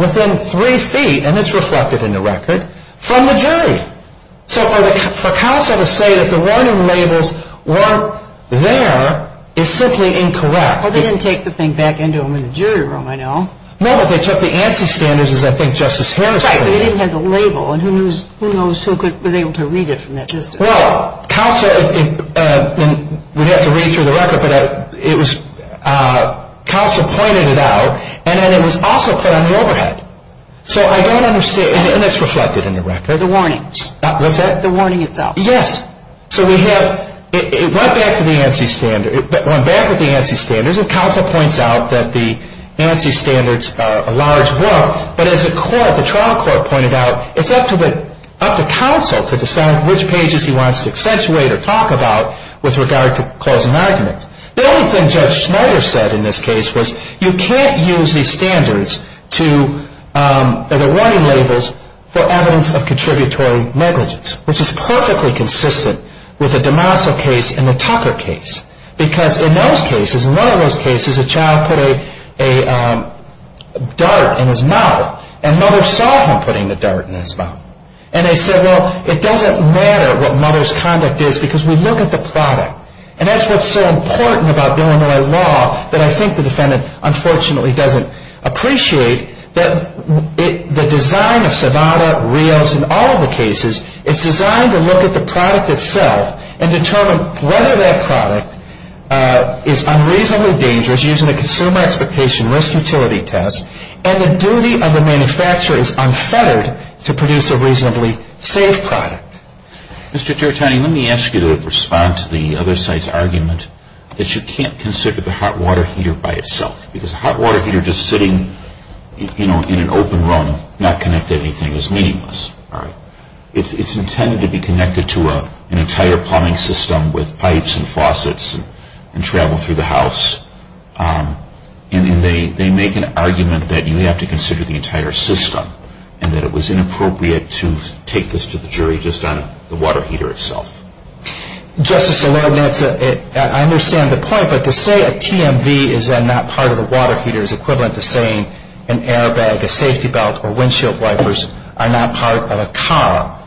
within three feet, and it's reflected in the record, from the jury. So for CASA to say that the warning labels weren't there is simply incorrect. Well, they didn't take the thing back into the jury room, I know. No, they took the ANSI standards, as I think Justice Swearer said. But they didn't have the label, and who knows who was able to read it from that justice? Well, CASA, we'd have to read through the record, but it was CASA pointing it out, and then it was also put on the overhead. So I don't understand, isn't this reflected in the record? The warnings. What's that? The warning itself. Yes. So we have, it went back to the ANSI standards, and CASA points out that the ANSI standards are a large work, but as the court, the trial court pointed out, it's up to CASA to decide which pages he wants to accentuate or talk about with regard to cause and argument. The only thing Judge Schneider said in this case was, you can't use these standards to, or the warning labels, for evidence of contributory negligence, which is perfectly consistent with the DeMasa case and the Tucker case, because in those cases, none of those cases, a child put a dart in his mouth, and no one saw him putting the dart in his mouth. And they said, well, it doesn't matter what mother's conduct is because we look at the product, and that's what's so important about Illinois law that I think the defendant unfortunately doesn't appreciate, that the design of Savada, Rios, and all of the cases, it's designed to look at the product itself and determine whether that product is unreasonably dangerous using a consumer expectation risk utility test, and the duty of the manufacturer is unfettered to produce a reasonably safe product. Mr. Tarantino, let me ask you to respond to the other side's argument that you can't consider the hot water heater by itself, because a hot water heater just sitting, you know, in an open room, not connected to anything is meaningless. It's intended to be connected to an entire plumbing system with pipes and faucets and travel through the house, and they make an argument that you have to consider the entire system and that it was inappropriate to take this to the jury just on the water heater itself. Justice O'Connor, I understand the point, but to say a TMV is not part of a water heater is equivalent to saying an air bag, a safety belt, or windshield wipers are not part of a car.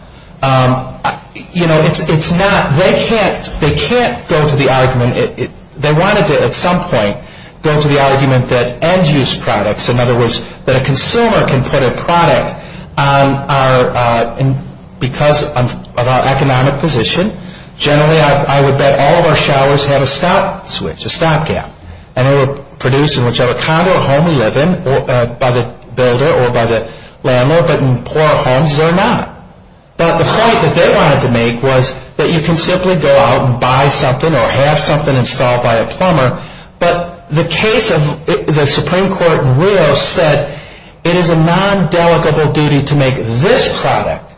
You know, it's not. They can't go to the argument. They wanted to at some point go to the argument that end-use products, in other words, that a consumer can put a product on our and because of our economic position, generally I would bet all of our showers have a stop switch, a stop gap, and they were produced in whichever condo or home we live in by the builder or by the landlord, but in poor homes they're not. But the point that they wanted to make was that you can simply go out and buy something or have something installed by a plumber, but the case of the Supreme Court rule said it is a non-dedicable duty to make this product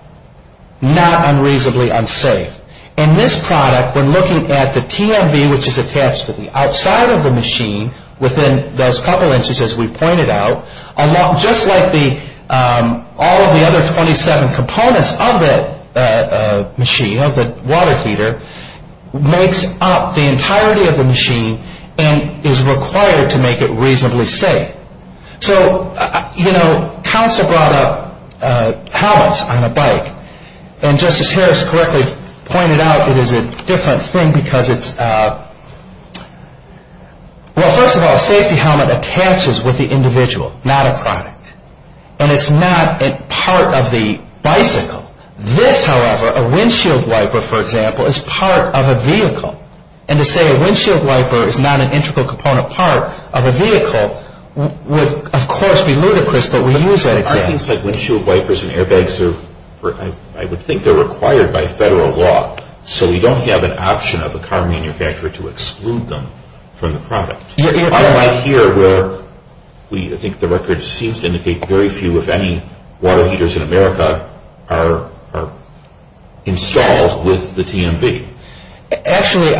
not unreasonably unsafe. In this product, we're looking at the TMV, which is attached to the outside of the machine within those couple of instances we pointed out, just like all of the other 27 components of that machine, we have the water feeder, makes up the entirety of the machine and is required to make it reasonably safe. So, you know, Council brought up pallets on a bike, and Justice Harris correctly pointed out it is a different thing because it's, well, first of all, a safety helmet attaches with the individual, not a product, and it's not a part of the bicycle. This, however, a windshield wiper, for example, is part of a vehicle, and to say a windshield wiper is not an integral component part of a vehicle would, of course, be ludicrous, but we use that example. I think that windshield wipers and airbags are, I would think they're required by federal law, so we don't have an option of a car manufacturer to exclude them from the product. I'm not here where we, I think the record seems to indicate that very few, if any, water heaters in America are installed with the TMB. Actually,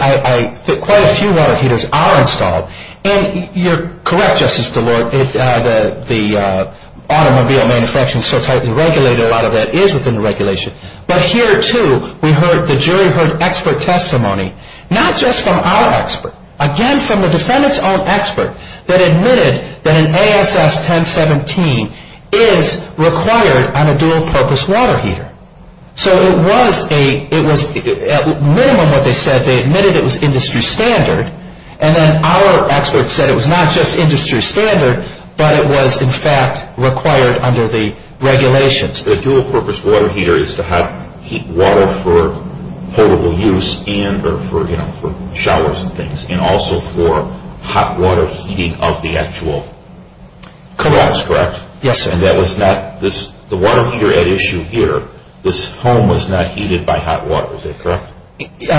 quite a few water heaters are installed, and you're correct, Justice DeLore, the automobile manufacturing is so tightly regulated, a lot of that is within the regulation, but here, too, we've heard, the jury heard expert testimony, not just from our expert, again, from the defendant's own expert that admitted that an ASS 1017 is required on a dual-purpose water heater. So it was a, it was, at minimum what they said, they admitted it was industry standard, and then our expert said it was not just industry standard, but it was, in fact, required under the regulations. A dual-purpose water heater is to have heat water for potable use and for showers and things, and also for hot water heating of the actual garage, correct? Yes, sir. And that is not, the water heater at issue here, this home was not heated by hot water, is that correct? There's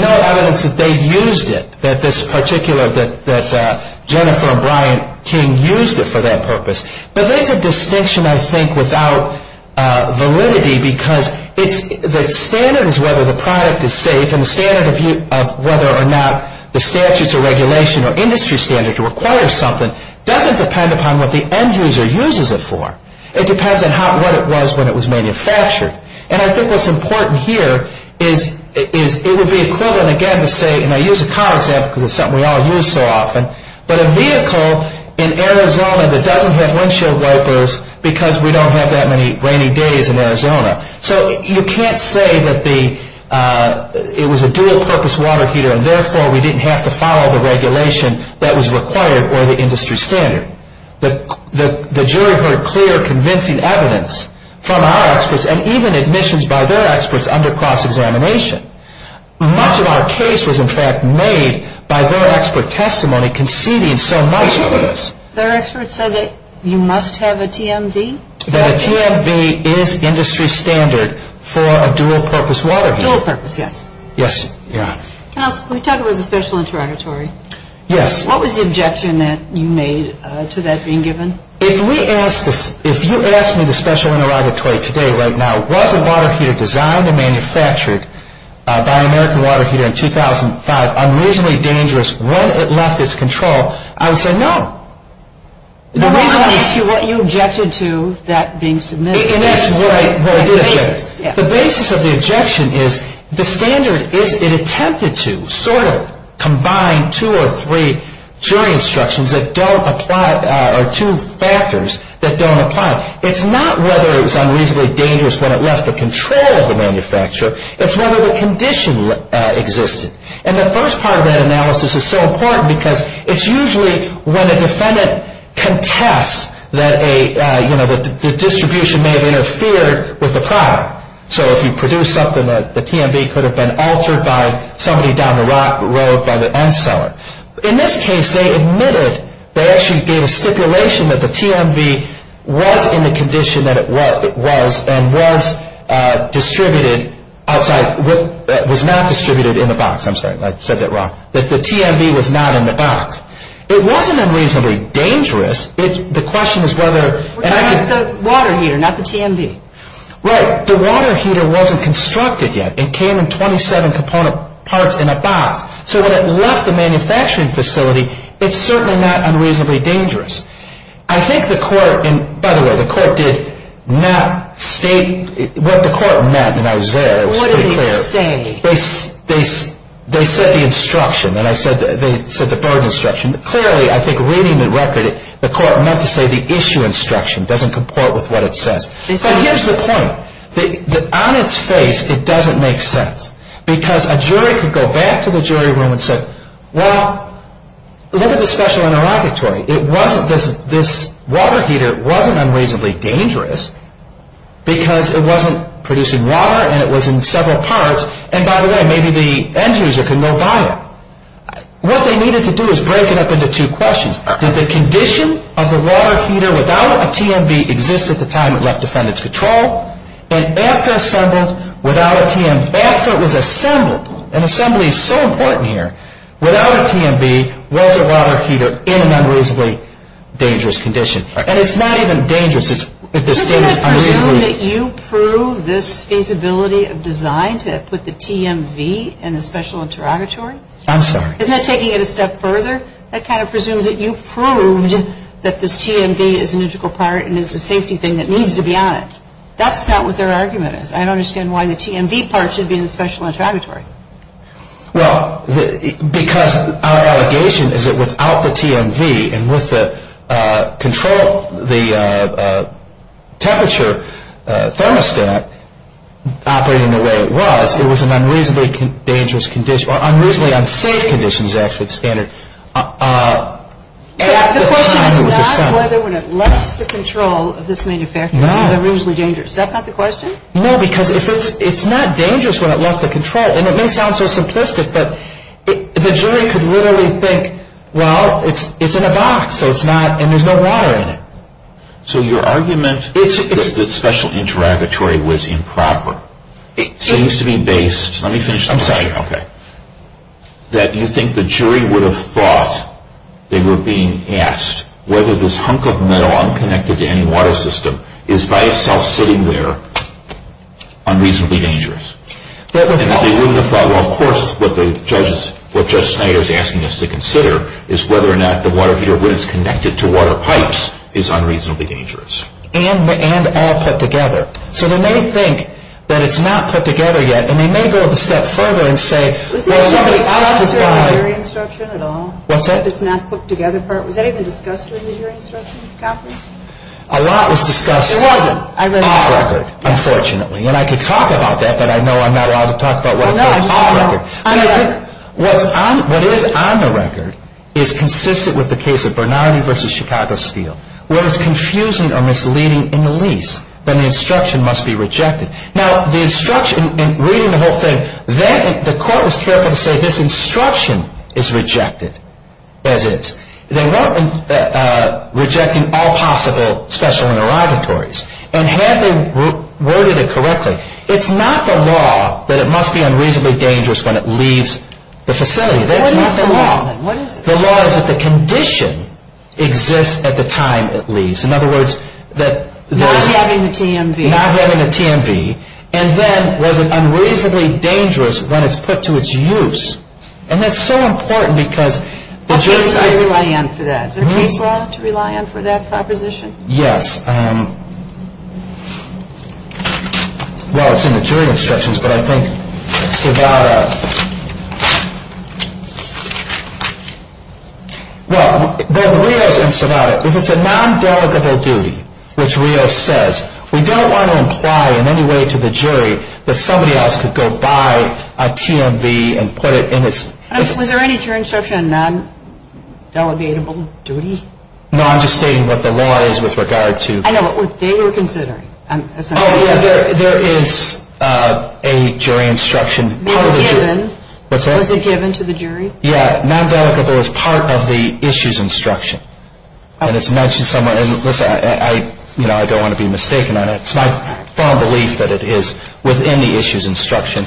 no evidence that they used it, that this particular, that Jennifer and Brian King used it for that purpose. But there's a distinction, I think, without validity, because the standards whether the product is safe and the standards of whether or not the statutes or regulation or industry standards require something doesn't depend upon what the end user uses it for. It depends on what it was when it was manufactured. And I think what's important here is it would be equivalent, again, to say, you know, use a car, for example, is something we all use so often, but a vehicle in Arizona that doesn't have windshield wipers because we don't have that many rainy days in Arizona. So you can't say that it was a dual-purpose water heater and therefore we didn't have to follow the regulation that was required or the industry standard. The jury heard clear, convincing evidence from our experts and even admissions by their experts under cross-examination. Much of our case was, in fact, made by their expert testimony conceding so much of this. Their experts said that you must have a TMD? The TMD is industry standard for a dual-purpose water heater. Dual-purpose, yes. Yes, yeah. Now, we talked about the special inter-auditory. Yes. What was the objection that you made to that being given? If you asked me the special inter-auditory today, right now, was a water heater designed and manufactured by an American water heater in 2005 unreasonably dangerous when it left its control, I would say no. What you objected to that being submitted? The basis of the objection is the standard is it attempted to sort of combine two or three jury instructions that don't apply or two factors that don't apply. It's not whether it was unreasonably dangerous when it left the control of the manufacturer. It's whether the condition existed. And the first part of that analysis is so important because it's usually when the defendant contests that a, you know, the distribution may have interfered with the product. So if you produce something, the TMD could have been altered by somebody down the road by the end seller. In this case, they admitted there should be a stipulation that the TMD was in the condition that it was and was distributed outside, was not distributed in the box. I'm sorry, I said that wrong. That the TMD was not in the box. It wasn't unreasonably dangerous. The question is whether. The water heater, not the TMD. Right. The water heater wasn't constructed yet. It came in 27 component parts in a box. So when it left the manufacturing facility, it's certainly not unreasonably dangerous. I think the court, and by the way, the court did not state what the court meant when I was there. It was pretty clear. What did it say? They said the instruction. They said the burden instruction. Clearly, I think reading the record, the court meant to say the issue instruction doesn't comport with what it says. So here's the point. On its face, it doesn't make sense. Because a jury could go back to the jury room and say, well, look at the special interrogatory. This water heater wasn't unreasonably dangerous because it wasn't producing water and it was in several parts. And by the way, maybe the end user could look on it. What they needed to do is break it up into two questions. That the condition of the water heater without a TMD exists at the time it left defendant's control. And after assembled, without a TMD. After it was assembled. And assembly is so important here. Without a TMD, where's the water heater in an unreasonably dangerous condition? And it's not even dangerous. I presume that you prove this capability of design to put the TMD in the special interrogatory. I'm sorry. Isn't that taking it a step further? I kind of presume that you proved that this TMD is an electrical part and is a safety thing that needs to be on it. That's not what their argument is. I don't understand why the TMD part should be in the special interrogatory. Well, because our allegation is that without the TMD and with the control, the temperature thermostat operating the way it was, it was an unreasonably dangerous condition. Or unreasonably unsafe condition is actually the standard. The question is not whether when it left the control of this manufacturer it was unreasonably dangerous. Is that not the question? No, because it's not dangerous when it left the control. And it may sound so simplistic, but the jury could literally think, well, it's in a box, and there's no water in it. So your argument is that the special interrogatory was improper. It seems to be based, let me finish. I'm sorry. Okay. That you think the jury would have thought they were being asked whether this hunk of metal is by itself sitting there unreasonably dangerous. Of course, what Judge Snyder is asking us to consider is whether or not the water heater was connected to water pipes is unreasonably dangerous. And all put together. So they may think that it's not put together yet, and they may be able to step further and say, Was there discussion of the jury instruction at all? What's that? It's not put together? Was that even discussed during the jury instruction conference? A lot was discussed on the record, unfortunately. And I could talk about that, but I know I'm not allowed to talk about what was on the record. What is on the record is consistent with the case of Bernardi v. Chicago Steel. Where it's confusing or misleading in the least, then the instruction must be rejected. Now, the instruction, in reading the whole thing, then the court was careful to say, This instruction is rejected, as is. They weren't rejecting all possible special interrogatories. And Hadley worded it correctly. It's not the law that it must be unreasonably dangerous when it leaves the facility. That is not the law. Then what is it? The law is that the condition exists at the time it leaves. Not having the TMV. Not having the TMV. And then, was it unreasonably dangerous when it's put to its use? And that's so important because the jury's got to rely on it for that. The jury's got to rely on it for that proposition? Yes. Well, it's in the jury instructions, but I think without a... Well, but Rio's concerned about it. If it's a non-delegable duty, which Rio says, we don't want to imply in any way to the jury that somebody else could go buy a TMV and put it in its... Was there any jury instruction on non-delegable duty? No, I'm just stating what the law is with regard to... I know, but what they were considering. Oh, yeah, there is a jury instruction. Was it given? What's that? Was it given to the jury? Yeah, non-delegable is part of the issues instruction. And it's mentioned somewhere. And, listen, I don't want to be mistaken on it. It's my firm belief that it is within the issues instruction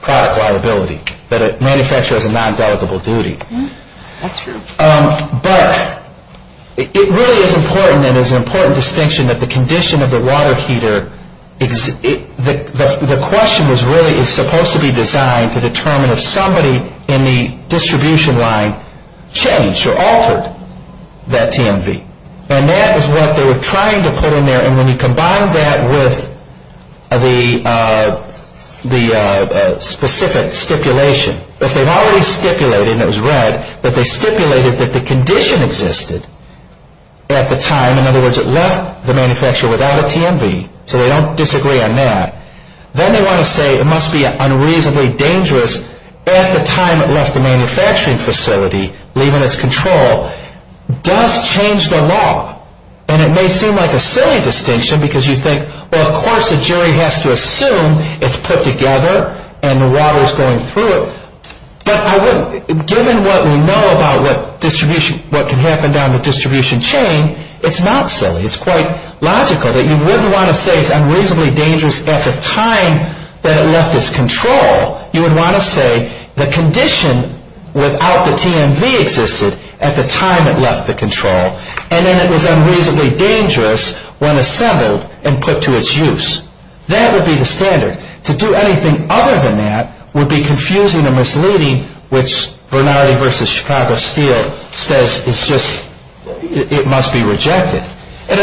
product liability, that it manufactures a non-delegable duty. That's true. But it really is important, and there's an important distinction, that the condition of the water heater, the question was really it was supposed to be designed to determine if somebody in the distribution line changed or altered that TMV. And that is what they were trying to put in there, and then we combined that with the specific stipulation. But they not only stipulated, and it was read, but they stipulated that the condition existed at the time. In other words, it left the manufacturer without a TMV, so they don't disagree on that. Then they want to say it must be unreasonably dangerous at the time it left the manufacturing facility, leaving its control. That's changed a lot, and it may seem like a silly distinction because you think, well, of course the jury has to assume it's put together and the water is going through it. But given what we know about what can happen down the distribution chain, it's not silly. It's quite logical that you wouldn't want to say it's unreasonably dangerous at the time that it left its control. You would want to say the condition without the TMV existed at the time it left the control, and then it was unreasonably dangerous when assembled and put to its use. That would be the standard. To do anything other than that would be confusing and misleading, which Bernardi v. Chicago Steel says it must be rejected. It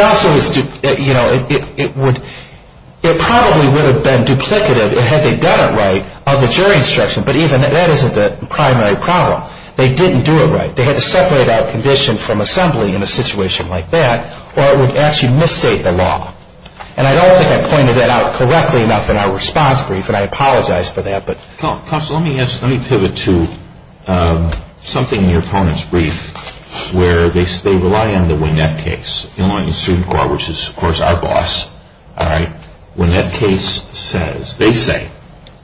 probably would have been duplicative had they done it right on the jury instruction, but that isn't the primary problem. They didn't do it right. They had to separate out conditions from assembly in a situation like that, or it would actually misstate the law. I don't think I pointed that out correctly enough in our response brief, and I apologize for that. Counsel, let me ask, let me pivot to something in your opponent's brief where they rely on the WNET case. Illinois Instrument Corp., which is, of course, our boss, WNET case says, they say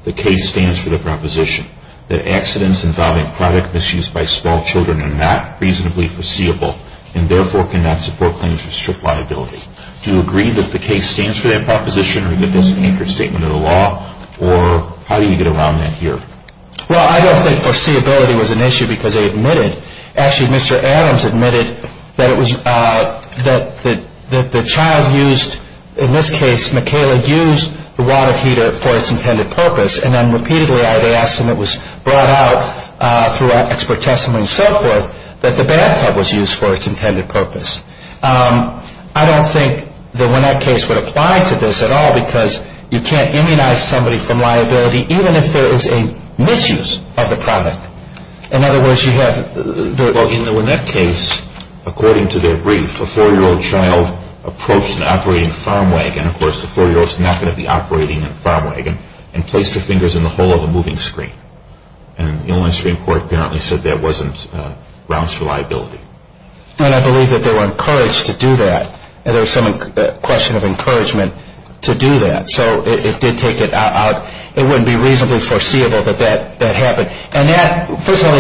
the case stands for the proposition that accidents involving product misuse by small children are not reasonably foreseeable and therefore cannot support claims of strict liability. Do you agree that the case stands for that proposition or how do you get around that here? Well, I don't think foreseeability was an issue because they admitted, actually Mr. Adams admitted that the child used, in this case, Michaela used the water heater for its intended purpose, and then repeatedly I would ask him it was brought out throughout expert testimony and so forth that the bathtub was used for its intended purpose. I don't think the WNET case would apply to this at all because you can't immunize somebody from liability even if there is a misuse of the product. In other words, you have, in the WNET case, according to their brief, a four-year-old child approached an operating farm wagon, of course the four-year-old is not going to be operating a farm wagon, and placed her fingers in the hole of a moving screen. And Illinois Instrument Corp. apparently said there wasn't grounds for liability. And I believe that they were encouraged to do that. And there was some question of encouragement to do that. So it did take it out. It wouldn't be reasonably foreseeable that that happened. And that, first of all,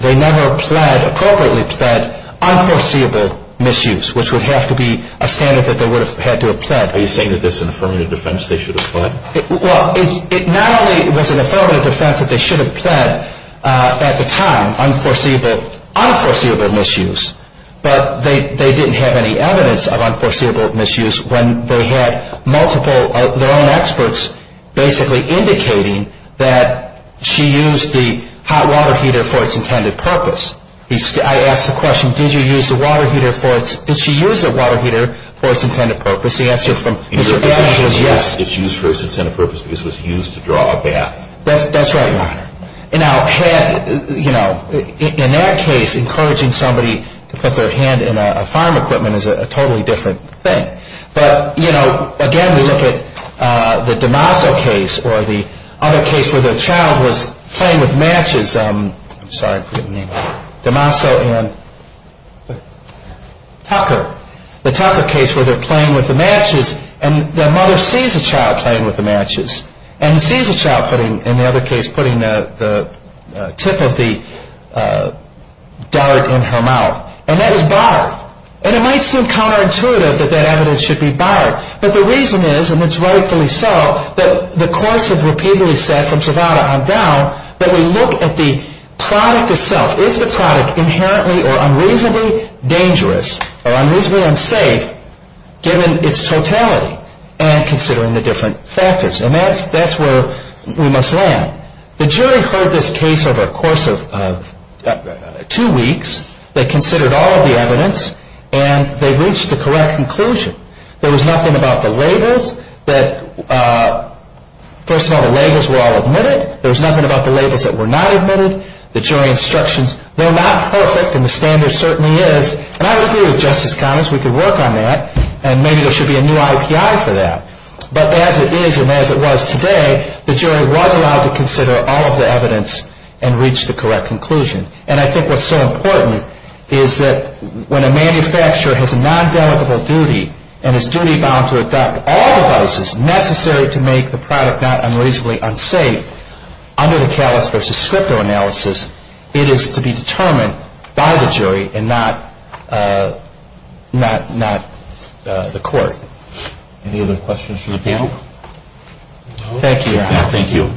they never applied, appropriately applied, unforeseeable misuse, which would have to be a standard that they would have had to apply. Are you saying that this is an affirmative defense they should have applied? Well, it not only was an affirmative defense that they should have applied at the time, unforeseeable misuse, but they didn't have any evidence of unforeseeable misuse when they had multiple of their own experts basically indicating that she used the hot water heater for its intended purpose. I asked the question, did she use the water heater for its intended purpose? The answer is yes. Did she use it for its intended purpose because it was used to draw a bath? That's right, Ron. In that case, encouraging somebody to put their hand in a farm equipment is a totally different thing. But, again, we look at the DeMaso case or the other case where the child was playing with matches. I'm sorry for the name. DeMaso and Tucker. The Tucker case where they're playing with the matches and the mother sees the child playing with the matches and sees the child, in the other case, putting the tip of the dart in her mouth, and that is barred. It might seem counterintuitive that that evidence should be barred, but the reason is, and it's rightfully so, that the courts have repeatedly said from Travada on down that we look at the product itself. Is the product inherently or unreasonably dangerous or unreasonably unsafe given its totality and considering the different factors? And that's where we must land. The jury heard this case over the course of two weeks. They considered all of the evidence, and they reached the correct conclusion. There was nothing about the labels. First of all, the labels were all admitted. There was nothing about the labels that were not admitted. The jury instructions were not perfect, and the standard certainly is. And I agree with Justice Connors. We can work on that, and maybe there should be a new IPI for that. But as it is and as it was today, the jury was allowed to consider all of the evidence and reach the correct conclusion. And I think what's so important is that when a manufacturer has a non-delegable duty and his duty is to adopt all devices necessary to make the product not unreasonably unsafe, under the Calus versus Scripto analysis, it is to be determined by the jury and not the court. Any other questions from the panel? Thank you. Thank you.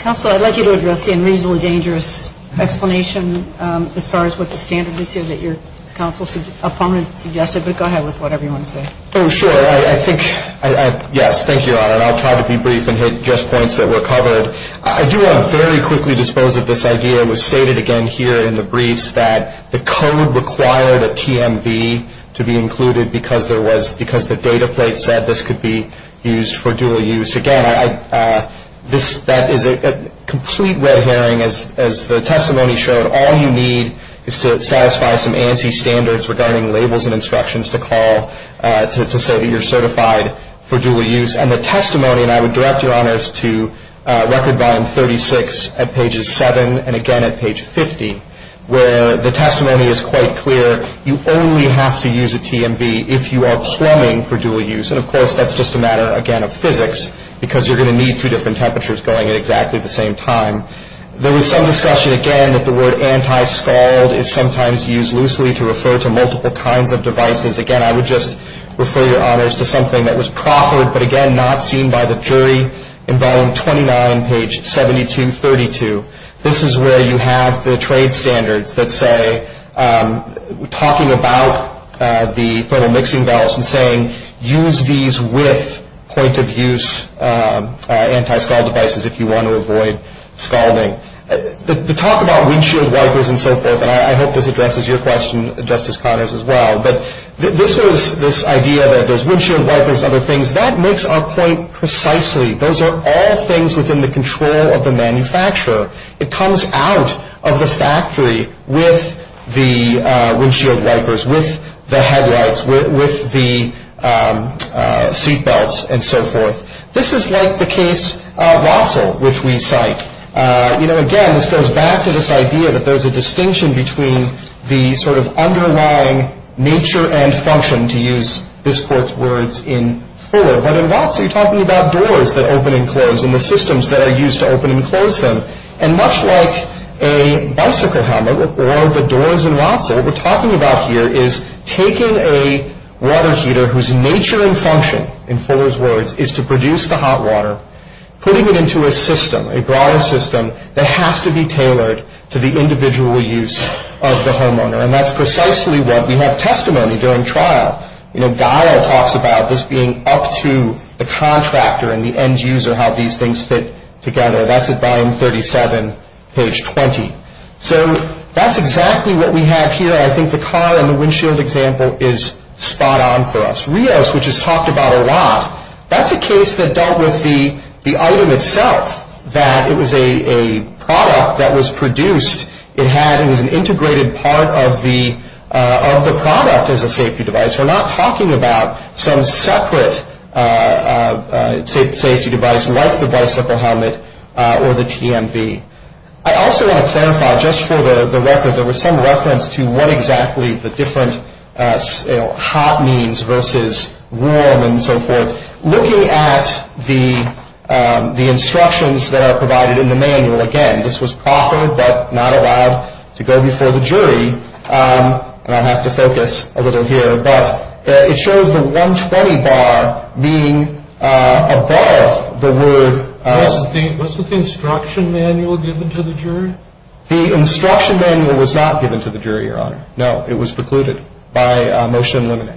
Counsel, I'd like you to address the unreasonably dangerous explanation as far as what the standard is here that your counsel's opponent suggested, but go ahead with whatever you want to say. Oh, sure. I think, yes, thank you, Your Honor. I'll try to be brief and address points that were covered. I do want to very quickly dispose of this idea. It was stated again here in the briefs that the code required a TMV to be included because the data plate said this could be used for dual use. Again, that is a complete red herring. As the testimony showed, all you need is to satisfy some ANSI standards regarding labels and instructions to say that you're certified for dual use. And the testimony, and I would direct Your Honors to Record Volume 36 at pages 7, and again at page 50, where the testimony is quite clear. You only have to use a TMV if you are plumbing for dual use. And, of course, that's just a matter, again, of physics because you're going to need two different temperatures going at exactly the same time. There was some discussion again that the word anti-scald is sometimes used loosely to refer to multiple kinds of devices. Again, I would just refer Your Honors to something that was proffered, but again not seen by the jury in Volume 29, page 7232. This is where you have the trade standards that say, talking about the total mixing valves and saying use these with point-of-use anti-scald devices if you want to avoid scalding. The talk about windshield wipers and so forth, and I hope this addresses your question, Justice Connors, as well, but this idea that there's windshield wipers and other things, that makes our point precisely. Those are all things within the control of the manufacturer. It comes out of the factory with the windshield wipers, with the headlights, with the seatbelts, and so forth. This is like the case of VASL, which we cite. Again, this goes back to this idea that there's a distinction between the sort of underlying nature and function, to use this Court's words in further. But in VASL, you're talking about doors that open and close and the systems that are used to open and close them. And much like a bicycle helmet or the doors in VASL, what we're talking about here is taking a water heater whose nature and function, in Fuller's words, is to produce the hot water, putting it into a system, a garage system, that has to be tailored to the individual use of the homeowner. And that's precisely what we have testimony during trial. You know, Dyer talks about this being up to the contractor and the end user, how these things fit together. That's at line 37, page 20. So that's exactly what we have here. I think the car and the windshield example is spot on for us. Rios, which is talked about a lot, that's a case that dealt with the item itself, that it was a product that was produced. It was an integrated part of the product as a safety device. So we're not talking about some separate safety device like the bicycle helmet or the TMV. I also want to clarify, just for the record, there was some reference to what exactly the different hot means versus warm and so forth. Looking at the instructions that are provided in the manual, again, this was proper but not allowed to go before the jury, and I'll have to focus a little here, but it shows the 120 bar being above the word- Wasn't the instruction manual given to the jury? The instruction manual was not given to the jury, Your Honor. No, it was precluded by motion eliminating.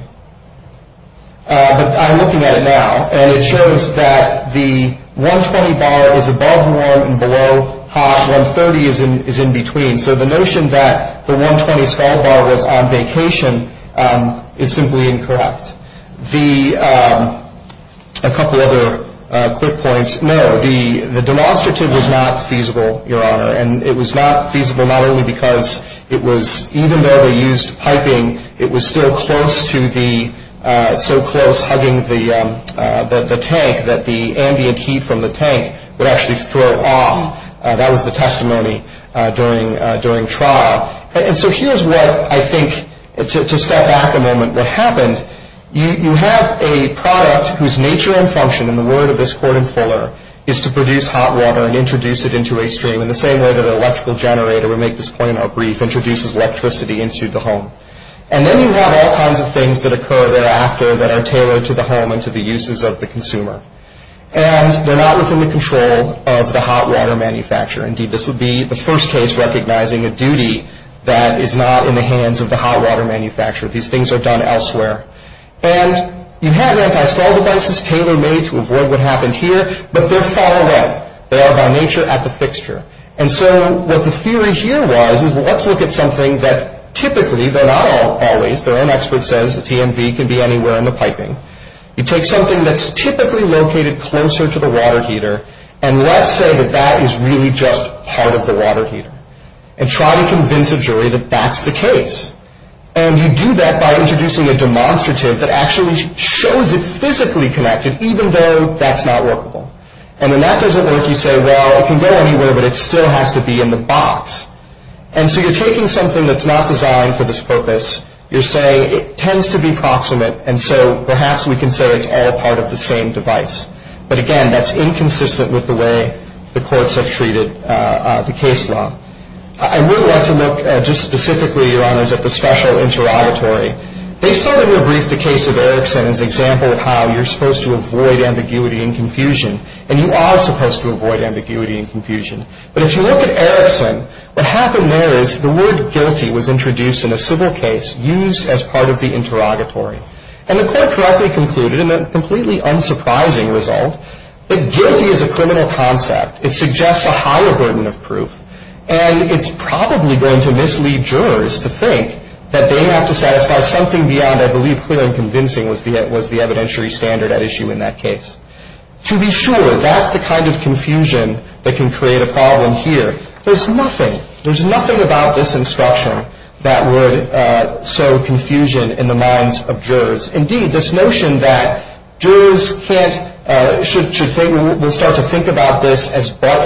But I'm looking at it now, and it shows that the 120 bar is above warm and below hot. 130 is in between. So the notion that the 120 sky bar was on vacation is simply incorrect. A couple other quick points. No, the demonstrative was not feasible, Your Honor, and it was not feasible not only because it was even though they used piping, I mean, it was still close to the-so close, hugging the tank, that the ambient heat from the tank would actually flow off. That was the testimony during trial. And so here's what I think, to step back a moment, what happens. You have a product whose nature and function, in the word of this court in Fuller, is to produce hot water and introduce it into a stream in the same way that an electrical generator, to make this point more brief, introduces electricity into the home. And then you have all kinds of things that occur thereafter that are tailored to the home and to the uses of the consumer. And they're not within the control of the hot water manufacturer. Indeed, this would be the first case recognizing a duty that is not in the hands of the hot water manufacturer. These things are done elsewhere. And you have antistatic devices tailor-made to avoid what happened here, but they're far away. They are, by nature, at the fixture. And so what the theory here was is, well, let's look at something that typically, that our own expert says the CMV can be anywhere in the piping. You take something that's typically located closer to the water heater, and let's say that that is really just part of the water heater, and try to convince a jury that that's the case. And you do that by introducing a demonstrative that actually shows it physically connected, even though that's not workable. And then that doesn't work. You say, well, it can go anywhere, but it still has to be in the box. And so you're taking something that's not designed for this purpose. You're saying it tends to be proximate, and so perhaps we can say it's all part of the same device. But, again, that's inconsistent with the way the courts have treated the case law. I would like to look just specifically, Your Honors, at the special inter-auditory. They sort of re-briefed the case of Erickson as an example of how you're supposed to avoid ambiguity and confusion, and you are supposed to avoid ambiguity and confusion. But if you look at Erickson, what happened there is the word guilty was introduced in a civil case used as part of the inter-auditory. And the court correctly concluded, in a completely unsurprising result, that guilty is a criminal concept. It suggests a higher burden of proof, and it's probably going to mislead jurors to think that they have to satisfy something beyond, I believe, clear and convincing was the evidentiary standard at issue in that case. To be sure, that's the kind of confusion that can create a problem here. There's nothing about this instruction that would sow confusion in the minds of jurors. Indeed, this notion that jurors should start to think about this as part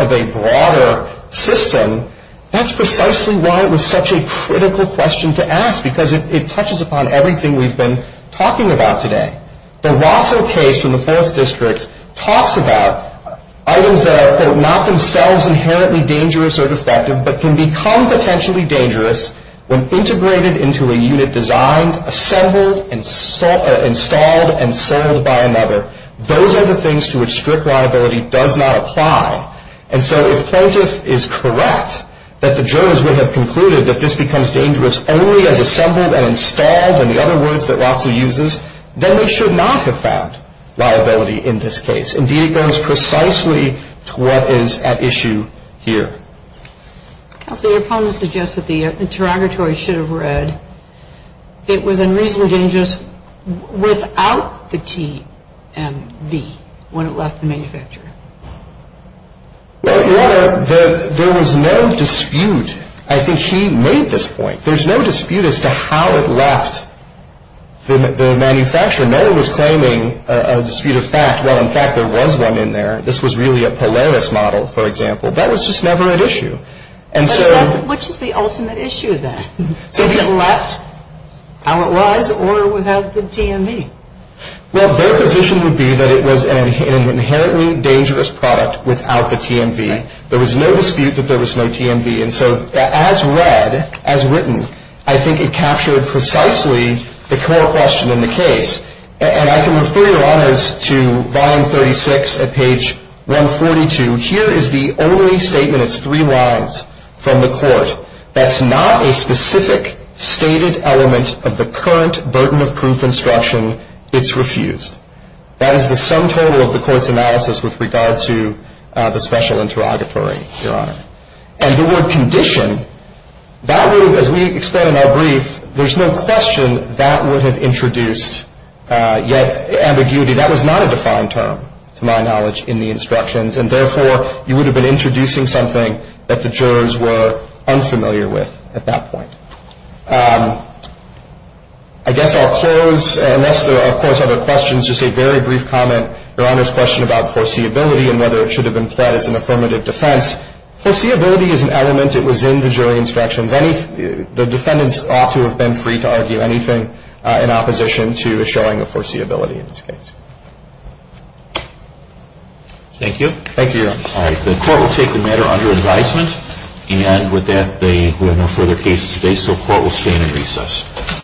of a broader system, that's precisely why it was such a critical question to ask, because it touches upon everything we've been talking about today. The Rosser case in the Fourth District talks about items that are, quote, not themselves inherently dangerous or defective but can become potentially dangerous when integrated into a unit designed, assembled, installed, and sold by another. Those are the things to which strict liability does not apply. And so if Prentiss is correct that the jurors would have concluded that this becomes dangerous only as assembled and installed, and the other words that Rosser uses, then we should not have found liability in this case. Indeed, it goes precisely to what is at issue here. The opponent suggests that the interrogatory should have read, it was unreasonably dangerous without the TMD when it left the manufacturer. Well, there was no dispute. I think she made this point. There's no dispute as to how it left the manufacturer. No one was claiming a dispute of fact. Well, in fact, there was one in there. This was really a Polaris model, for example. That was just never an issue. Which is the ultimate issue then? Did it left how it was or without the TMD? Well, their position would be that it was an inherently dangerous product without the TMD. There was no dispute that there was no TMD. And so as read, as written, I think it captured precisely the core question in the case. And I can refer you, Your Honor, to volume 36 at page 142. Here is the only statement. It's three lines from the court. That's not a specific stated element of the current burden of proof instruction. It's refused. That is the sum total of the court's analysis with regard to the special interrogatory, Your Honor. And the word condition, that was, as we extend in our brief, there's no question that would have introduced yet ambiguity. That was not a defined term, to my knowledge, in the instructions. And therefore, you would have been introducing something that the jurors were unfamiliar with at that point. I guess I'll close, unless there are, of course, other questions. Just a very brief comment, Your Honor's question about foreseeability and whether it should have been set as an affirmative defense. Foreseeability is an element that was in the jury instructions. The defendants ought to have been free to argue anything in opposition to showing the foreseeability in this case. Thank you. Thank you, Your Honor. All right. The court will take the matter under its license. And with that, we have no further cases today, so the court will stand in recess.